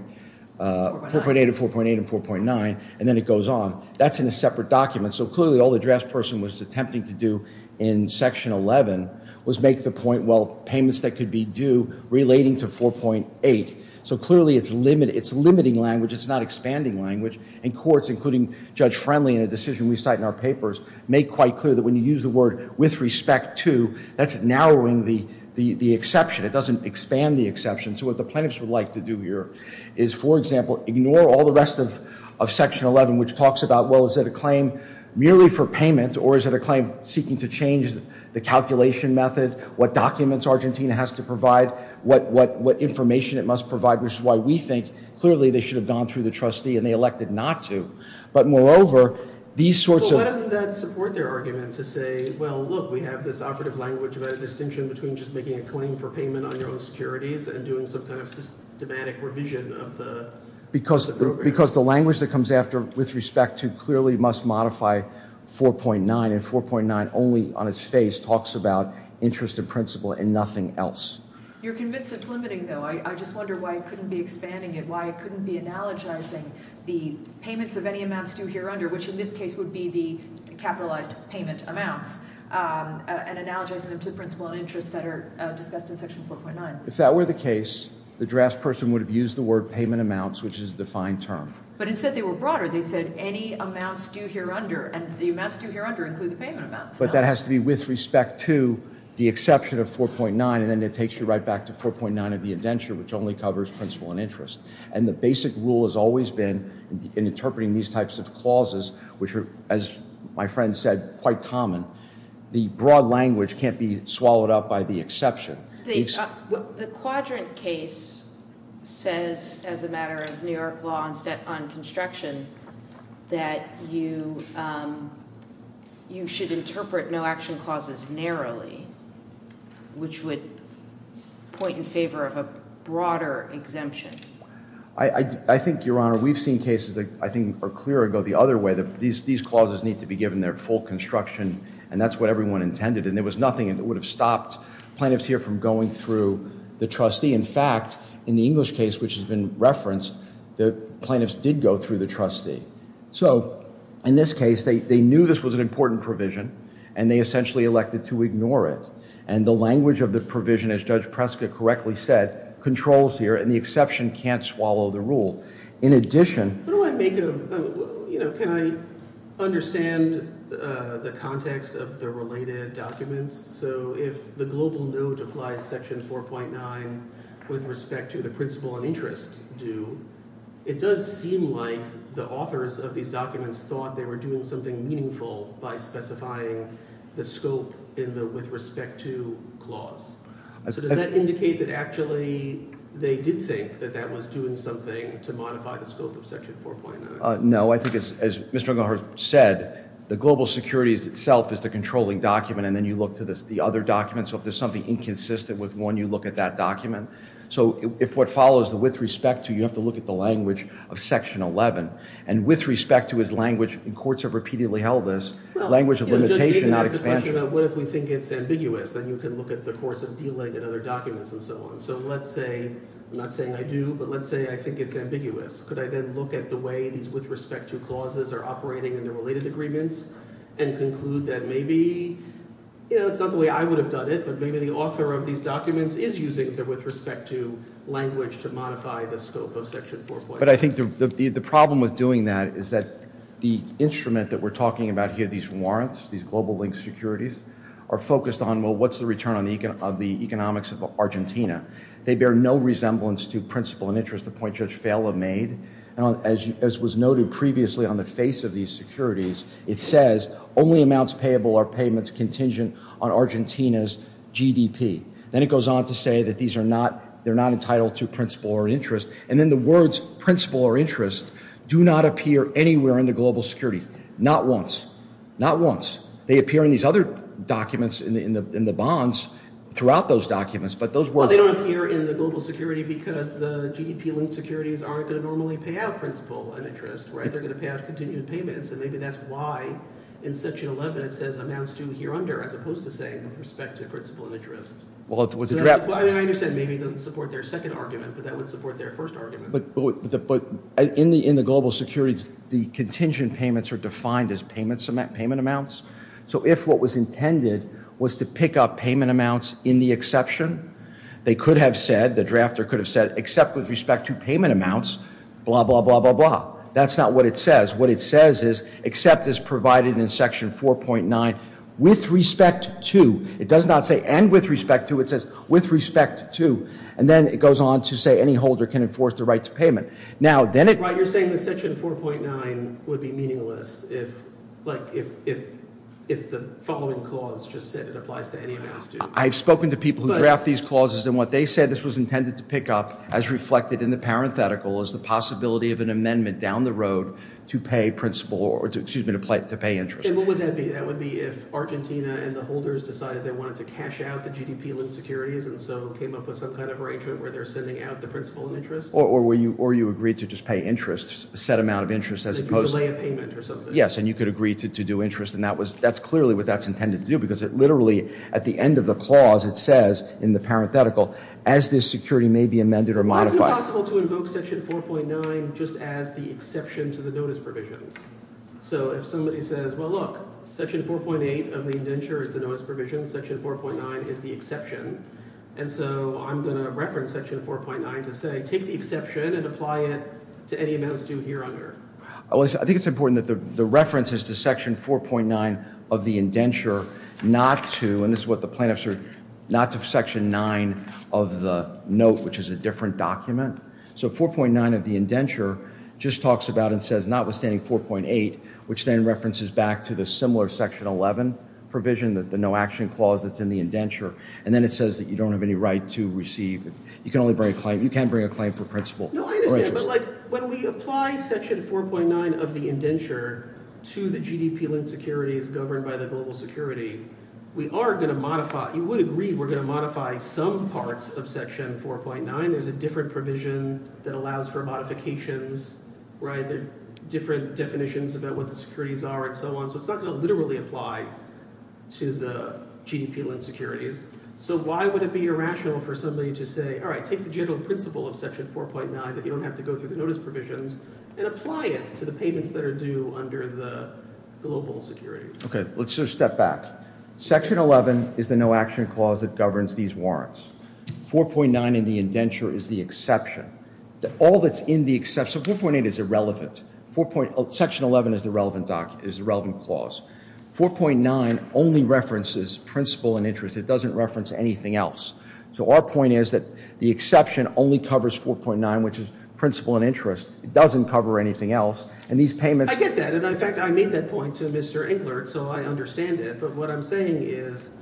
and 4.8 and 4.9, and then it goes on. That's in a separate document. So clearly, all the draftsperson was attempting to do in Section 11 was make the point, well, payments that could be due relating to 4.8. So clearly, it's limiting language. It's not expanding language. And courts, including Judge Friendly in a decision we cite in our papers, make quite clear that when you use the word with respect to, that's narrowing the exception. It doesn't expand the exception. So what the plaintiffs would like to do here is, for example, ignore all the rest of Section 11, which talks about, well, is it a claim merely for payment, or is it a claim seeking to change the calculation method, what documents Argentina has to provide, what information it must provide, which is why we think clearly they should have gone through the trustee and they elected not to. But moreover, these sorts of... Well, why don't we then support their argument to say, well, look, we have this operative language about a distinction between just making a claim for payment on your own securities and doing some kind of systematic revision of the program? Because the language that comes after with respect to clearly must modify 4.9, and 4.9 only on its face talks about interest in principle and nothing else. You're convinced it's limiting, though. I just wonder why it couldn't be expanding and why it couldn't be analogizing the payments of any amounts due here under, which in this case would be the capitalized payment amounts, and analogizing them to principle and interest that are discussed in Section 4.9. If that were the case, the draftsperson would have used the word payment amounts, which is the fine term. But instead, they were broader. They said any amounts due here under, and the amounts due here under include the payment amounts. But that has to be with respect to the exception of 4.9, and then it takes you right back to 4.9 of the indenture, which only covers principle and interest. And the basic rule has always been in interpreting these types of clauses, which are, as my friend said, quite common, the broad language can't be swallowed up by the exception. The Quadrant case says, as a matter of New York law and set on construction, that you should interpret no-action clauses narrowly, which would point in favor of a broader exemption. I think, Your Honor, we've seen cases that I think are clear or go the other way, that these clauses need to be given their full construction, and that's what everyone intended. And there was nothing that would have stopped plaintiffs here from going through the trustee. In fact, in the English case, which has been referenced, the plaintiffs did go through the trustee. So, in this case, they knew this was an important provision, and they essentially elected to ignore it. And the language of the provision, as Judge Prescott correctly said, controls here, and the exception can't swallow the rule. In addition... What do I make of... You know, can I understand the context of the related documents? So, if the global note applies to Section 4.9 with respect to the principle of interest, it does seem like the authors of these documents thought they were doing something meaningful by specifying the scope with respect to the clause. Does that indicate that actually they did think that that was doing something to modify the scope of Section 4.9? No, I think as Mr. Ungar said, the global securities itself is the controlling document, and then you look to the other documents if there's something inconsistent with one, you look at that document. So, if what follows with respect to, you have to look at the language of Section 11. And with respect to its language, and courts have repeatedly held this, language of limitation... What if we think it's ambiguous? Then you can look at the force of delay in other documents and so on. So, let's say, I'm not saying I do, but let's say I think it's ambiguous. Could I then look at the way these with respect to clauses are operating in the related agreements and conclude that maybe, you know, it's not the way I would have done it, but maybe the author of these documents is using the with respect to language to modify the scope of Section 4.9. But I think the problem with doing that is that the instrument that we're talking about here, these warrants, these global-linked securities, are focused on, what's the return of the economics of Argentina? They bear no resemblance to principle and interest the point Judge Fallah made. As was noted previously on the face of these securities, it says, only amounts payable are payments contingent on Argentina's GDP. Then it goes on to say that these are not, they're not entitled to principle or interest. And then the words principle or interest do not appear anywhere in the global security. Not once. Not once. They appear in these other documents in the bonds throughout those documents. But those words... Well, they don't appear in the global security because the GDP-linked securities aren't going to normally pay out principle and interest, right? They're going to pay out contingent payments and maybe that's why in Section 11 it says, amounts due here under, as opposed to saying with respect to principle and interest. Well, I understand maybe it doesn't support their second argument but that would support their first argument. But in the global securities, the contingent payments are defined as payments payment amounts. So if what was intended was to pick up payment amounts in the exception, they could have said, the drafter could have said, except with respect to payment amounts, blah, blah, blah, blah, blah. That's not what it says. What it says is except as provided in Section 4.9 with respect to, it does not say and with respect to, it says with respect to. And then it goes on to say any holder can enforce the right to payment. Now, then it... But you're saying that Section 4.9 would be meaningless if the following clause just said it applies to any amount. I've spoken to people who draft these clauses and what they said this was intended to pick up as reflected in the parenthetical is the possibility of an amendment down the road to pay principal or excuse me, to pay interest. And what would that be? That would be if Argentina and the holders decided they wanted to cash out the GDP-linked securities and so came up with some kind of arrangement where they're sending out the principal interest? Or you agreed to just pay interest, a set amount of interest as opposed to... To delay a payment or something. Yes, and you could agree to do interest and that's clearly what that's intended to do because it literally, at the end of the clause, it says in the parenthetical as this security may be amended or modified... It's possible to invoke Section 4.9 just as the exception to the notice provision. So if somebody says, well look, Section 4.8 of the Inventor is the notice provision. Section 4.9 is the exception. And so, I'm going to reference Section 4.9 to say, take the exception and apply it to any amount of interest. I think it's important that the reference is to Section 4.9 of the indenture not to, and this is what the plaintiffs are, not to Section 9 of the note which is a different document. So 4.9 of the indenture just talks about and says, notwithstanding 4.8, which then references back to the similar Section 11 provision, the no action clause that's in the indenture. And then it says that you don't have any right to receive. You can only bring a claim, you can't bring a claim for principal interest. No, I understand, but like when we apply Section 4.9 of the indenture to the GDP linked securities governed by the global security, we are going to modify, you would agree, we're going to modify some parts of Section 4.9. There's a different provision that allows for modifications, right, different definitions about what the securities are and so on. So it's not going to literally apply to the GDP linked securities. So why would it be irrational for somebody to say, all right, take the general principle of Section 4.9 but you don't have to go through the notice provisions and apply it to the payments that are due under the global security. Okay, let's just step back. Section 11 is the no action clause that governs these warrants. 4.9 in the indenture is the exception. All that's in the exception, 4.8 is irrelevant. Section 11 is the relevant clause. 4.9 only references principal and interest. It doesn't reference anything else. So our point is that the exception only covers 4.9, which is principal and interest. It doesn't cover anything else. And these payments... I get that. And in fact, I made that point to Mr. Engler, so I understand it. But what I'm saying is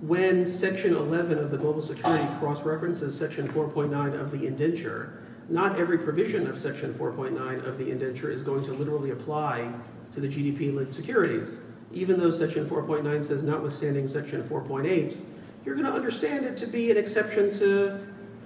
when Section 11 of the global security cross-references Section 4.9 of the indenture, not every provision of Section 4.9 of the indenture is going to literally apply to the GDP linked securities. Even though Section 4.9 does not withstand Section 4.8, you're going to understand it to be an exception to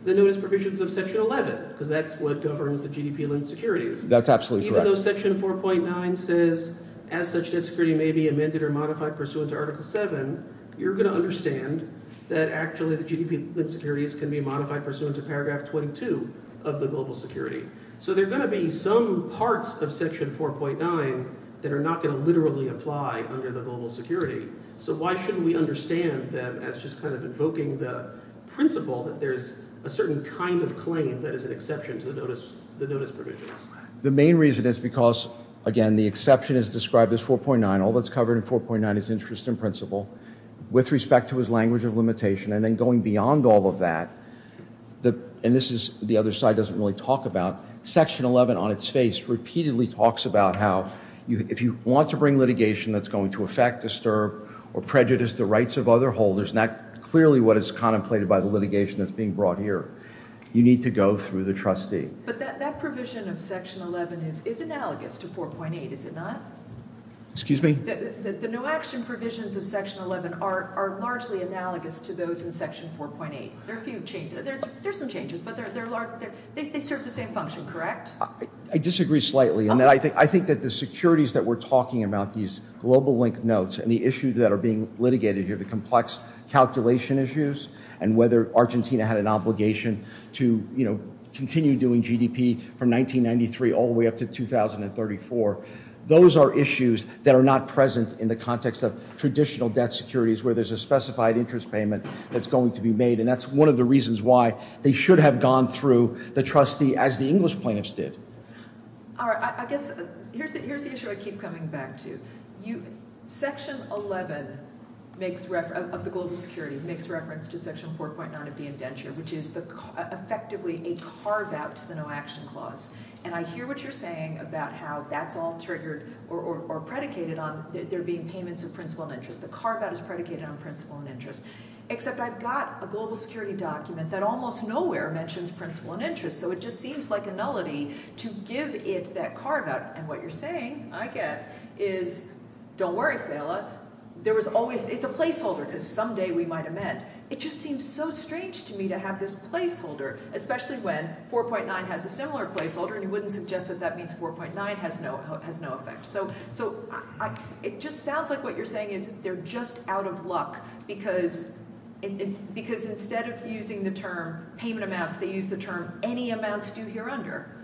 the notice provisions of Section 11. So that's what governs the GDP linked securities. That's absolutely correct. Even though Section 4.9 says, as such, history may be amended or modified pursuant to Article 7, you're going to understand that actually the GDP linked securities can be modified pursuant to Paragraph 22 of the global security. So there's going to be some parts of Section 4.9 that are not going to literally apply under the global security. So why shouldn't we understand that as just kind of invoking the principle that there's a certain kind of claim that is an exception to the notice provisions? The main reason is because, again, the exception is described as 4.9. All that's covered in 4.9 is interest in principle with respect to its language of limitation. And then going beyond all of that, and this is the other side doesn't really talk about, Section 11, on its face, repeatedly talks about how if you want to bring litigation that's going to affect, or prejudice the rights of other holders, that's clearly what is contemplated by the litigation that's being brought here. You need to go through the trustee. But that provision of Section 11 is analogous to 4.8, is it not? Excuse me? The new action provisions of Section 11 are largely analogous to those in Section 4.8. There are a few changes. There's some changes, but they serve the same function, correct? I disagree slightly. And I think that the securities that we're talking about, these global link notes, and the issues that are being litigated here, the complex calculation issues, and whether Argentina had an obligation to continue doing GDP from 1993 all the way up to 2034, those are issues that are not present in the context of traditional debt securities where there's a specified interest payment that's going to be made. And that's one of the reasons why they should have gone through the trustee as the English plaintiffs did. Alright, I guess here's the issue I keep coming back to. Section 11 of the global securities makes reference to Section 4.9 of the indenture, which is effectively a carve-out to the no-action clause. And I hear what you're saying about how that's all triggered or predicated on there being payments of principal and interest. The carve-out is predicated on principal and interest. Except I've got the global security document that almost nowhere mentions principal and interest, so it just seems like a melody to give it that carve-out. And what you're saying, I get it, is, don't worry, Stella, it's a placeholder that someday we might amend. It just seems so strange to me to have this placeholder, especially when 4.9 has a similar placeholder and you wouldn't suggest that that means 4.9 has no effect. So, it just sounds like what you're saying is they're just out of luck because instead of using the term payment amounts, they use the term any amounts due here under.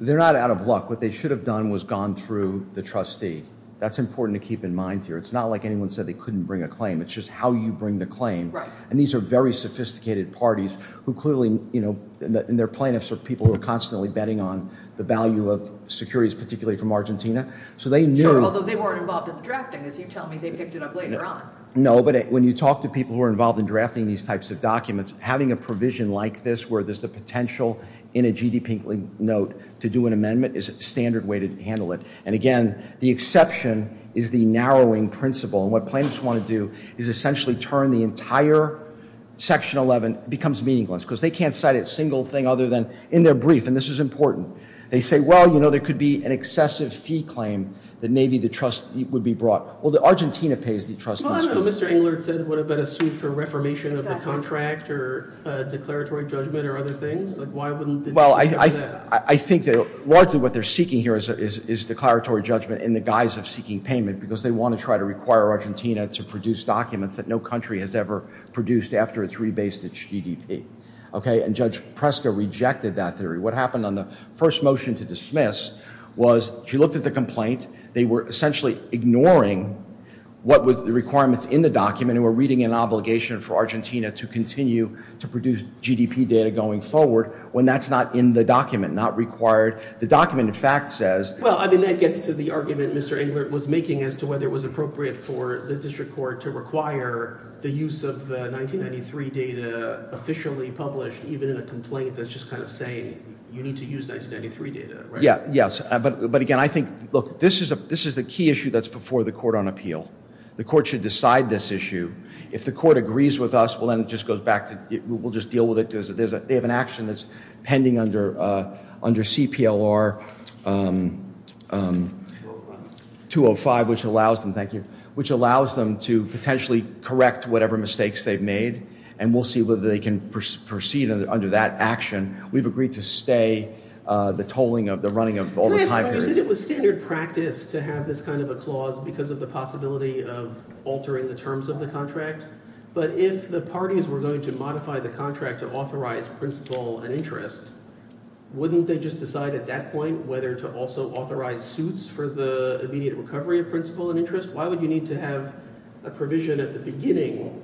They're not out of luck. What they should have done was gone through the trustee. That's important to keep in mind here. It's not like anyone said they couldn't bring a claim. It's just how you bring the claim. And these are very sophisticated parties who clearly, you know, and their plaintiffs are people who are constantly betting on the value of securities, particularly from Argentina. So, they knew... Sure, although they weren't involved in the drafting as you tell me they picked it up later on. No, but when you talk to people who are involved in drafting these types of documents, having a provision like this where there's the potential in a GDP note to do an amendment is a standard way to handle it. And again, the exception is the narrowing principle. And what plaintiffs want to do is essentially turn the entire section 11 it becomes meaningless because they can't cite a single thing other than in their brief and this is important. They say, well, you know, there could be an excessive fee claim that maybe the trust would be brought. Well, the Argentina pays the trust. Well, I don't know. Mr. Engler said what about a suit for reformation of the contract or declaratory judgment or other things? Like, why wouldn't they do that? Well, I think that largely what they're seeking here is declaratory judgment in the guise of seeking payment because they want to try to require Argentina to produce documents that no country has ever produced after it's rebased its GDP. Okay? And Judge Presto rejected that theory. What happened on the first motion to dismiss was she looked at the complaint. They were essentially ignoring what was the requirements in the document and were reading an obligation for Argentina to continue to produce GDP data going forward when that's not in the document, not required. The document, in fact, says Well, I didn't get to the argument Mr. Engler was making as to whether it was appropriate for the district court to require the use of the 1993 data officially published even in a complaint that's just kind of saying you need to use 1993 data, right? Yeah, yes. But again, I think look, this is the key issue that's before the court on appeal. The court should decide this issue. If the court agrees with us, well, then it just goes back to we'll just deal with it and we'll see whether they can proceed under that action. We've agreed to stay the tolling of the running of all the time. It was standard practice to have this kind of a clause because of the possibility of altering the terms of the contract. But if the parties were going to modify the contract to authorize principle and interest, wouldn't they just decide at that point whether to also authorize suits for the immediate recovery of principle and interest? Why would you need to have a provision at the beginning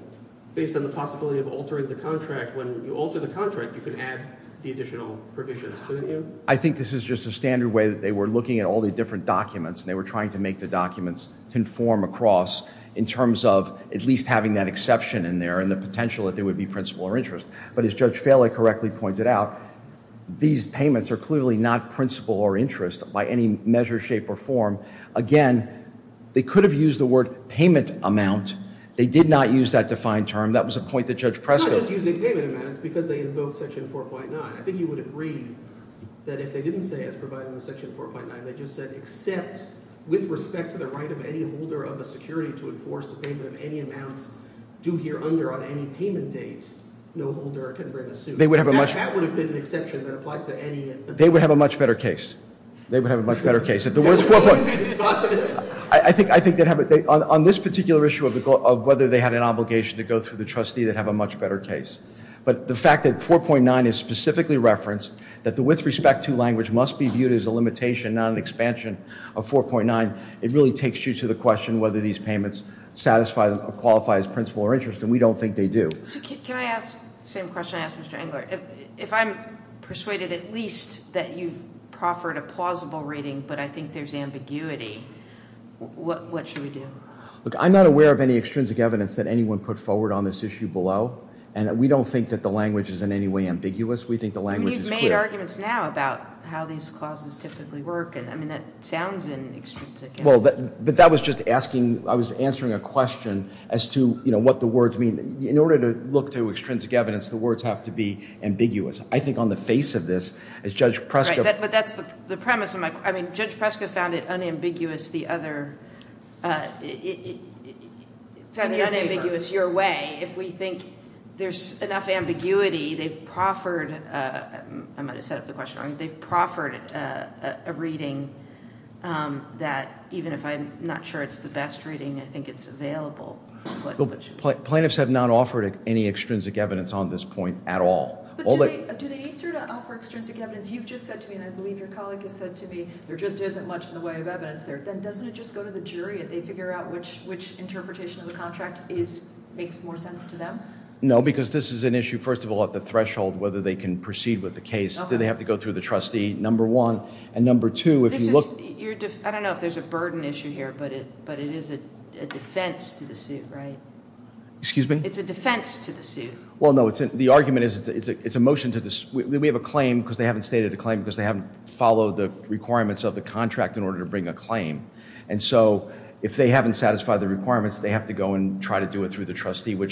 based on the possibility of altering the contract when you alter the contract you can add the additional provisions to the bill? I think this is just a standard way that they were looking at all the different documents and they were trying to make the documents conform across in terms of at least having that exception in there and the potential that there would be an alteration But as Judge Fehle correctly pointed out, these payments are clearly not principle or interest by any measure, shape, or form. Again, they could have used the word payment amount. They did not use that defined term. That was a point that Judge Press made. I was using payment amount because they invoked section 4.9. I think you would agree that if they didn't say it's provided in section 4.9 and they just said except with respect to the right of any holder of a security to enforce the payment of any amount due here under on any payment date, no holder can bring the suit. That would have been an exception that applies to any They would have a much better case. They would have a much better case. On this particular issue of whether they had an obligation to go through the trustee, they'd have a much better case. But the fact that 4.9 is specifically referenced, that the with respect to language must be viewed as a limitation not an expansion of 4.9, it really takes you to the question whether these payments satisfy or qualify as principle or interest and we don't think they do. Can I ask the same question I asked Mr. Engler? If I'm persuaded at least that you proffered a plausible reading but I think there's ambiguity, what should we do? Look, I'm not aware of any extrinsic evidence that anyone put forward on this issue below. And we don't think that the language is in any way ambiguous. We think the language is clear. We've made arguments now about how these clauses typically work and that sounds in an extrinsic evidence. But that was just asking, I was answering a question as to what the words mean. In order to look to extrinsic evidence, the words have to be ambiguous. I think on the face of this, as Judge Prescott Right, but that's the premise of my question. Judge Prescott also found it unambiguous the other, your way. If we think there's enough ambiguity, a reading that even if I'm not sure it's the best reading, I think it's available. Plaintiffs have not offered any extrinsic evidence on this point at all. Do they offer extrinsic evidence? You've just said to me, and I believe your colleague has said to me, there just isn't much to the way of evidence there. Doesn't it just go to the jury if they figure out which interpretation of the contract makes more sense to them? No, because this is an issue, first of all, at the threshold whether they can proceed with the case. Do they have to go through the trustee, number one? And number two, if you look... I don't know if there's a burden issue here, but it is a defense to the suit, right? Excuse me? It's a defense to the suit. Well, no, the argument is it's a motion to... We have a claim because they haven't stated the claim because they haven't followed the requirements of the contract in order to bring a claim. And so, if they haven't satisfied the requirements, they have to go and try to do it through the trustee. I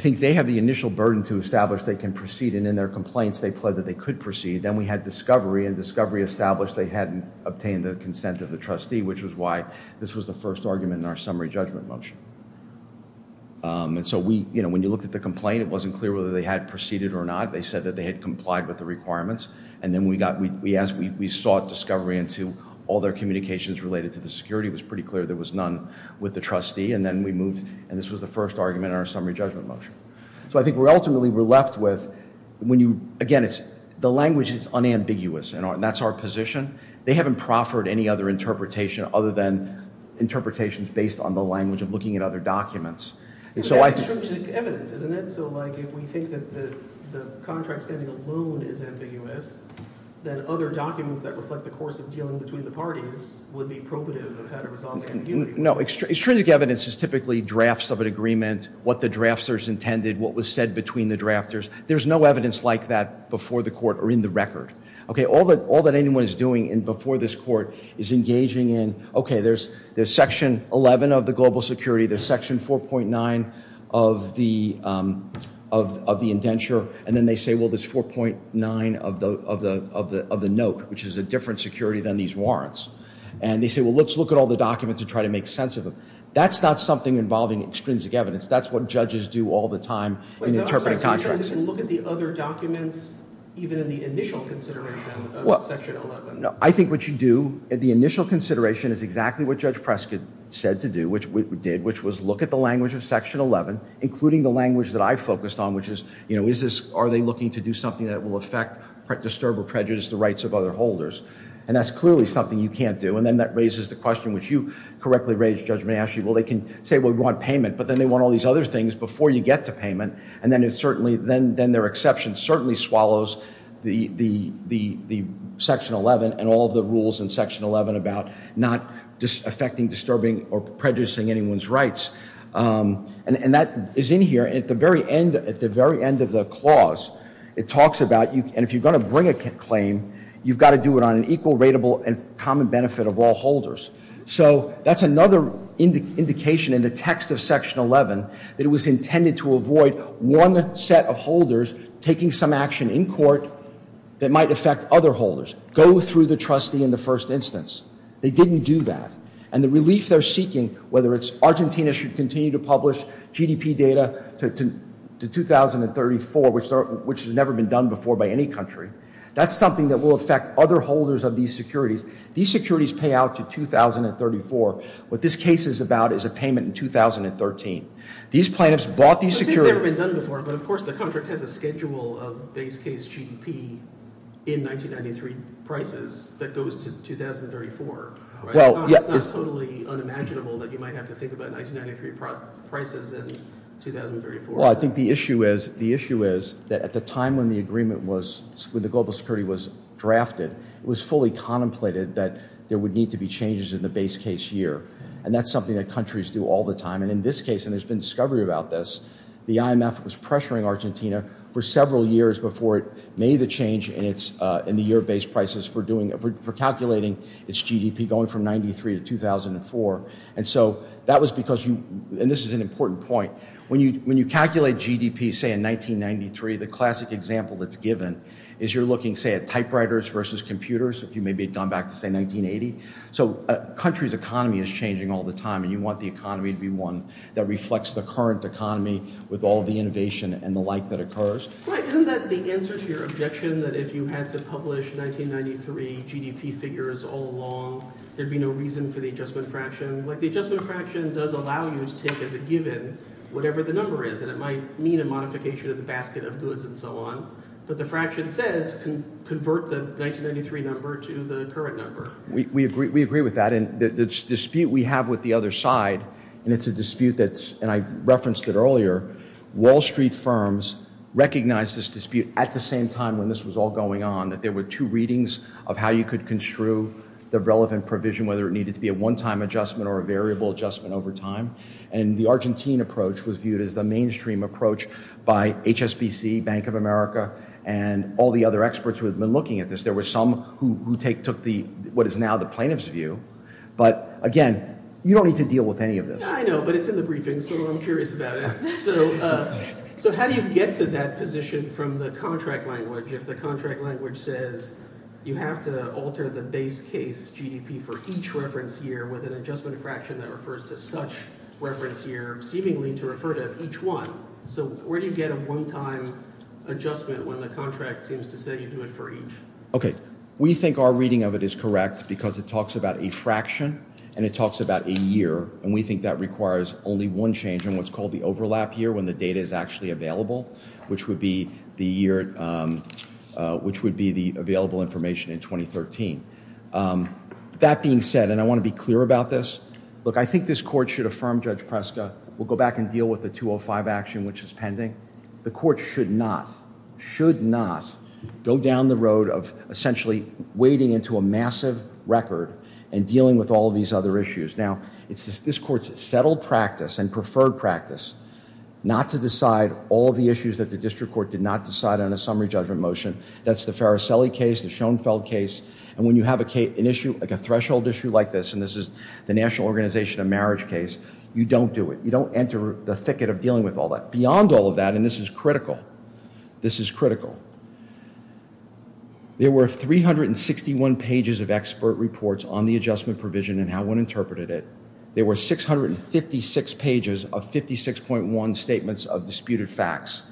think they have the initial burden to establish they can proceed and in their complaints they plead that they could proceed. Then we had discovery, and discovery established they hadn't obtained the consent of the trustee, which was why this was the first argument in our summary judgment motion. And so, when you look at the complaint, it wasn't clear whether they had met the and then we sought discovery into all their communications related to the security. It was pretty clear there was none with the trustee, and then we moved, and this was the first argument in our summary judgment motion. So, I think ultimately we're left with, again, the language is unambiguous, and that's our position. They haven't proffered any other interpretation other than interpretations based on the language of looking at other documents. And so, I... Extrinsic evidence, isn't it? like, if we think that the contract standing alone is ambiguous, then other documents that reflect the course of the court are in the record. All that anyone is doing before this court is engaging in, okay, there's section 11 of the global security, there's section 4.9 of the indenture, and then they say, there's 4.9 of the note, which is a different security than these other documents. And they say, well, let's look at all the documents and try to make sense of them. That's not something involving extrinsic evidence. That's what judges do all the time in interpreting contracts. I think what you do at the initial consideration is exactly what Judge Prescott said to do, which we did, which was look at the language of section 11, including the language that I focused on, which is, you know, what you can't do, and then that raises the question which you correctly raised, Mayashi. Well, they can say, you want payment, but then they want all these other things before you get to and then their exception certainly swallows the section 11 and all the rules in section 11 about not affecting, or prejudicing anyone's rights. And that is in here, and at the very end of the clause, it talks about, and if you're going to bring a claim, you've got to do it on an equal, rateable, and common benefit of all holders. So, that's another indication in the text of section 11 that it was intended to be a first instance. They didn't do that. And the relief they're seeking, whether it's Argentina should continue to publish GDP data to 2034, which has never been done before by any country, that's something that will affect other holders of these securities. These securities pay out to 2034. What this case is about is a payment in 2013. These plaintiffs bought these securities... I think it's never been done before, but of course the contract has a schedule of base case GDP in 1993 prices that goes to 2034. It's not totally unimaginable that you might have to think about 1993 prices in the same And that's something that countries do all the time. And in this case, and there's been discovery about this, the IMF was pressuring Argentina for several years before it made the change in the year base prices for calculating its GDP going from 93 to 2004. And so that was an important point. When you calculate GDP in 1993, the classic example that's given is you're looking at typewriters versus computers if you've gone back to 1980. So a country's economy is changing all the time. You want the economy to be one that reflects the current economy with all the innovation and the life that the has. And so the IMF was pressuring change in base prices going from 93 to 2004. And so the IMF was pressuring Argentina for several years before it made the decision we have with the other side, and it's a dispute that I referenced earlier, Wall Street firms recognized this dispute at the same time when this was all going on, that there were two readings of how you could construe the relevant provision, whether it needed to be a one-time adjustment or a adjustment over time. And the Argentine approach was viewed as the mainstream approach by HSBC, Bank of America, and all the other experts looking at this. There were some who took what was now the plaintiff's view, but, again, you don't need to deal with any of this. I know, but it's in the briefing, so I'm curious about it. So how do you get to that position from the contract language if the contract language says you have to alter the base case GDP for each reference year with an adjustment fraction that refers to such reference year seemingly to refer to each one? So where do you get a one-time adjustment when the contract says you do it for each? Okay. We think our reading of it is correct because it talks about a fraction and it talks about a year, and we think that requires only one change in what's called the overlap year when the data is actually available, which would be the available information in 2013. That being said, and I want to be clear about this, look, I think this is a should affirm Judge Preska. We'll go back and deal with the 205 action which is pending. The court should not go down the road of essentially wading into a massive record and dealing with all these other issues. Now, this court has settled practice and preferred practice not to decide all the issues that the district court did not decide on a summary judgment motion. When you have an issue like this, you don't do it. You don't enter the thicket of dealing with all that. Beyond all of that, this is critical. This is critical. There were 361 pages of expert reports on the adjustment provision and how one interpreted it. There were 656 pages of 56.1 statements of disputed facts.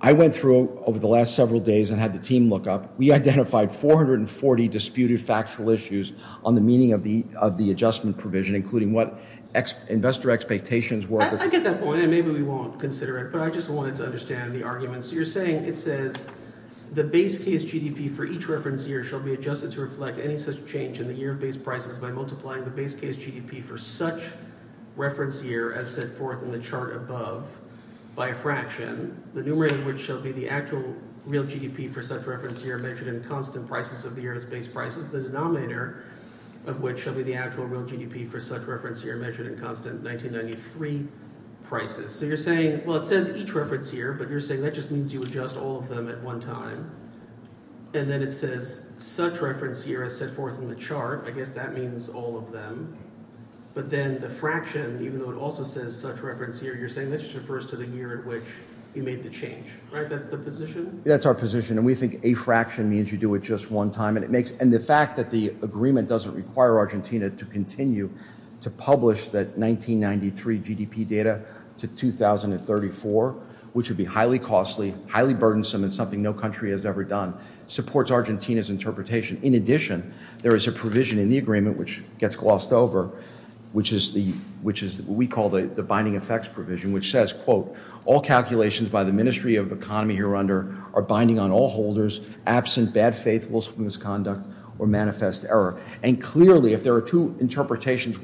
I went through over the last several days and had the team look up. We identified 440 disputed factual issues. I wanted to understand the are saying it says the base case GDP for each reference year by multiplying the base case GDP for such reference year as set forth in the chart above. We think a fraction means you do it just one time. The fact that the agreement doesn't require Argentina to publish the GDP data to 2034 which would be highly costly and burdensome and something no country has ever done supports Argentina's In addition there is a provision in the agreement which gets glossed over which is what we call the effects provision which says all calculations by the ministry are binding on all holders absent of faith or manifest error. Clearly if there are two interpretations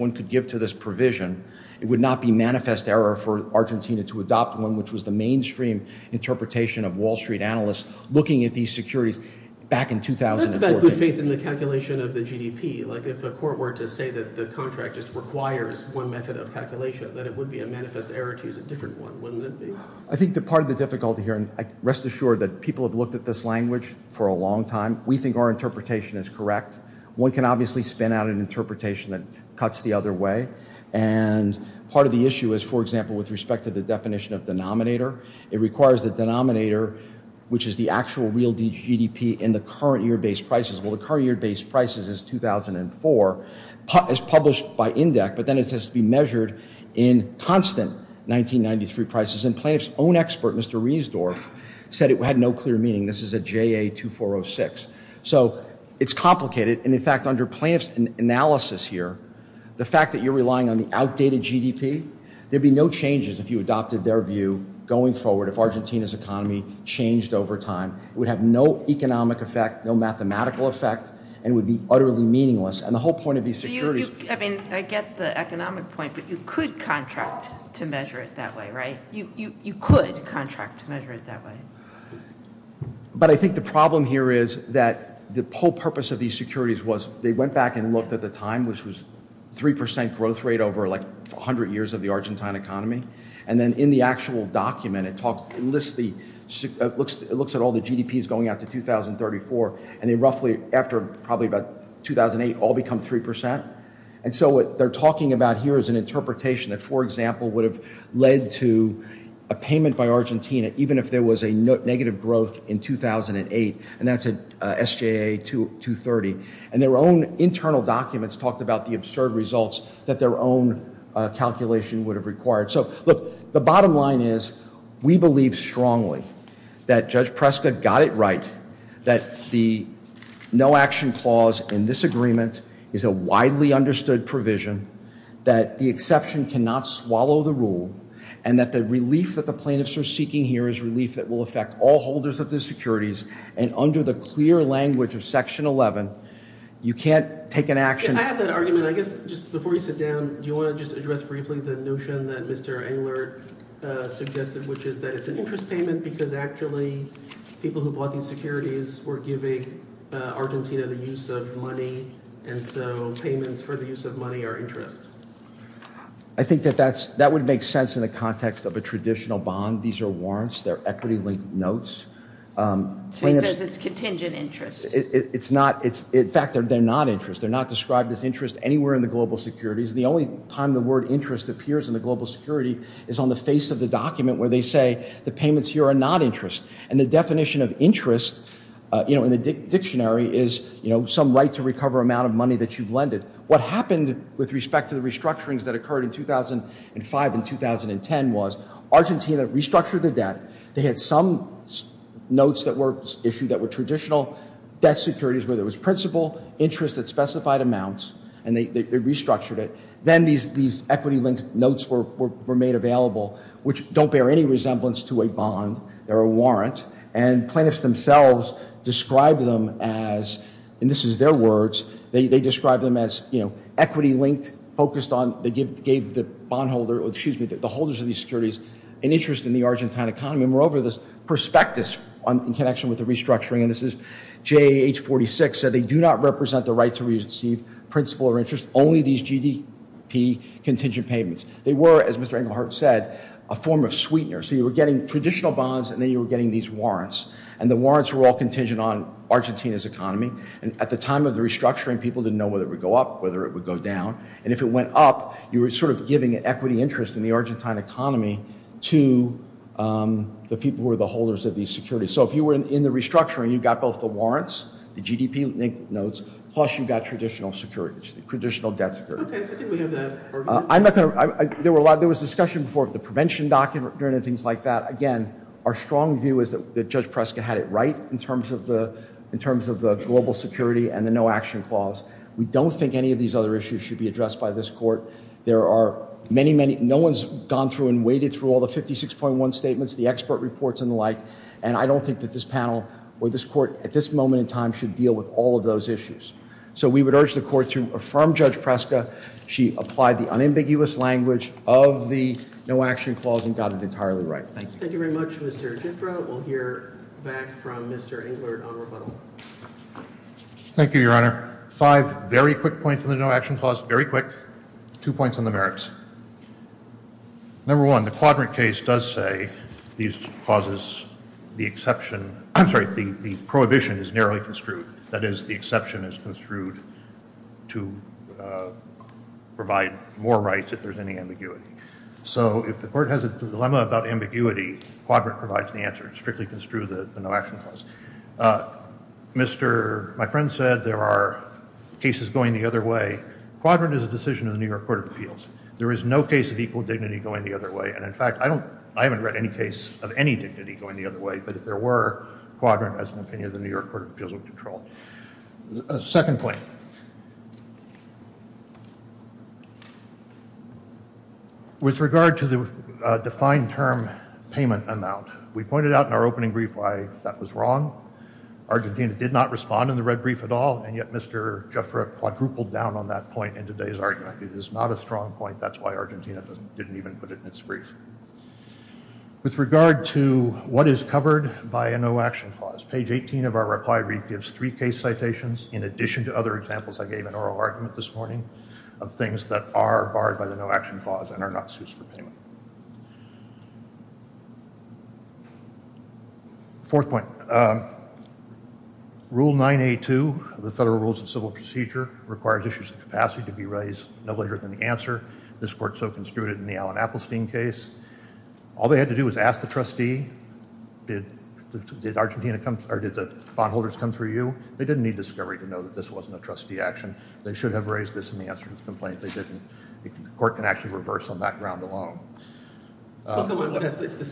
it would not be manifest error for Argentina to adopt one which was the mainstream interpretation of Wall analysts looking at the GDP like if the court were to say the contract requires one method of then it would be a manifest error to use a different one. Rest assured people have looked at this language for a long time. We think our interpretation is correct. One can obviously spin out an interpretation that cuts the other way. Part of the issue is for example with respect to the definition of it requires the denominator which is the J A 2406. It's complicated. The fact you're relying on the outdated GDP there would be no changes if you adopted their view. It would have no economic effect and would be utterly meaningless. I get the economic point but you could contract to measure it that way, right? You could contract to measure it that way. I think the problem here is that the whole purpose of these securities was they went back and looked at the time which was 3% growth rate over 100 years of the Argentine economy. In the actual document it looks at all the GDP going out to 2034 and after 2008 all become 3%. What they're talking about here is an interpretation that would have led to a payment by Argentina even if there was a negative growth in 2008. And their own internal documents talked about the fact there was action clause in this agreement. It's a widely understood provision that the exception cannot swallow the rule and the relief will affect all holders of the securities and under the clear language of the It's an interest payment because actually people who bought the securities were giving Argentina the use of money and so payments for the use of money are interest. I think that would make sense in the context of a traditional bond. These are not interest The definition of interest in the is some right to recover amount of What happened in 2005 and 2010 was Argentina restructured the debt. They had some notes that were traditional securities where there was principal interest and they restructured it. Then these equity linked notes were made available which don't bear any to a Plaintiffs themselves described them as equity linked focused on the holders of the securities and interest in the Argentine economy. They were over this prospectus in connection with the restructuring. JAH46 said they do not represent the right to receive principal or interest only these GDP contingent payments. They were a form of sweetener. You were getting traditional bonds and warrants contingent on the Argentine economy to the people who were the holders of these securities. If you were in the restructuring you got the warrants and linked notes and traditional securities. There was discussion before about the prevention of the Our strong view is that Judge Preska had it right in terms of the global security and the no-action clause. We don't think any of these other issues should be addressed by this court. No one has gone through and waited a that is entirely right. Thank you. Thank you very much. We will hear back from Mr. Englert on rebuttal. Thank you, Two points on the merits. Number one, the ambiguity provides the answer. My friend said there are pieces going the other way. There is no case of equal dignity going the other way. I haven't read any case of equal dignity going the other way. Second point. With regard to the fine term payment amount. We pointed out in the opening brief why that was wrong. Argentina did not respond. It is not a strong point. With regard to what is covered by a no action clause. In addition to other examples I gave you, point. Rule 982 of the federal rules of civil procedure requires capacity to be raised. All they had to do was ask the trustee. They didn't need discovery to know this wasn't a trustee action. They should have raised this in the answer to the complaint. The court can reverse on that ground alone. This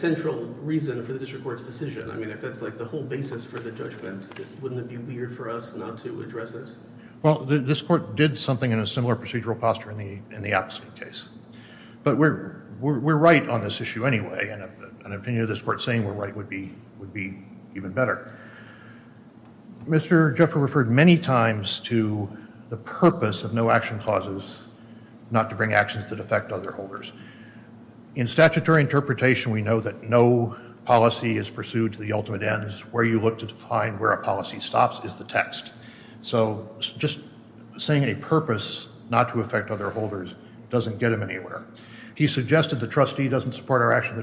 court did something in a similar procedure in the opposite case. We are right on this issue anyway. It would be even better. Mr. McCarty of no action clauses is not to bring actions that affect other holders. In statutory interpretation we know no policy is pursued to the ultimate ends. Just saying a purpose not to affect other holders doesn't get him anywhere. He suggested the trustee doesn't support our action.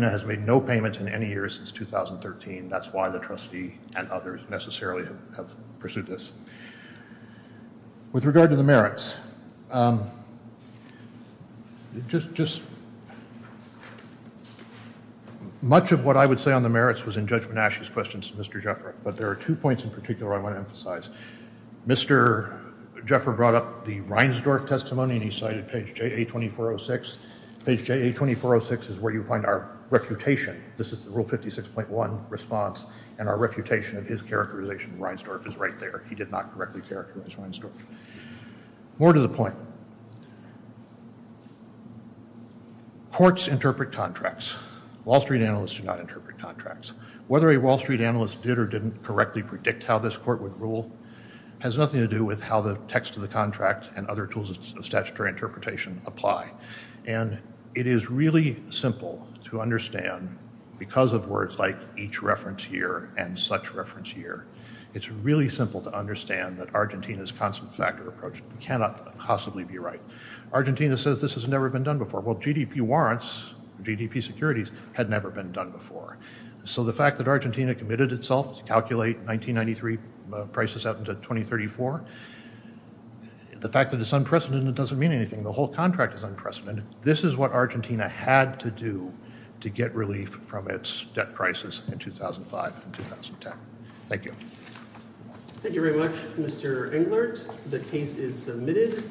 has made no payments in any year since 2013. That's why the trustee and others have pursued this. With regard to much of what I would say on the other Jeffer brought up Reinsdorf testimony. This is where you find our reputation. This is rule 56.1 response. More to the point. Courts interpret contracts. Wall Street analysts do not contracts. It has nothing to do with how the text of the contract and other tools of interpretation apply. It is really simple to understand because of words like each reference year and such reference year. It's simple to that Argentina's approach cannot be right. GDP securities had never been done before. The fact that Argentina committed itself to prices up to 2034, the fact that it's unprecedented doesn't mean anything. This is what Argentina had to do to get relief from its debt prices in 2005 and 2010. Thank you. Thank you very much, Mr. Englert. The case is submitted.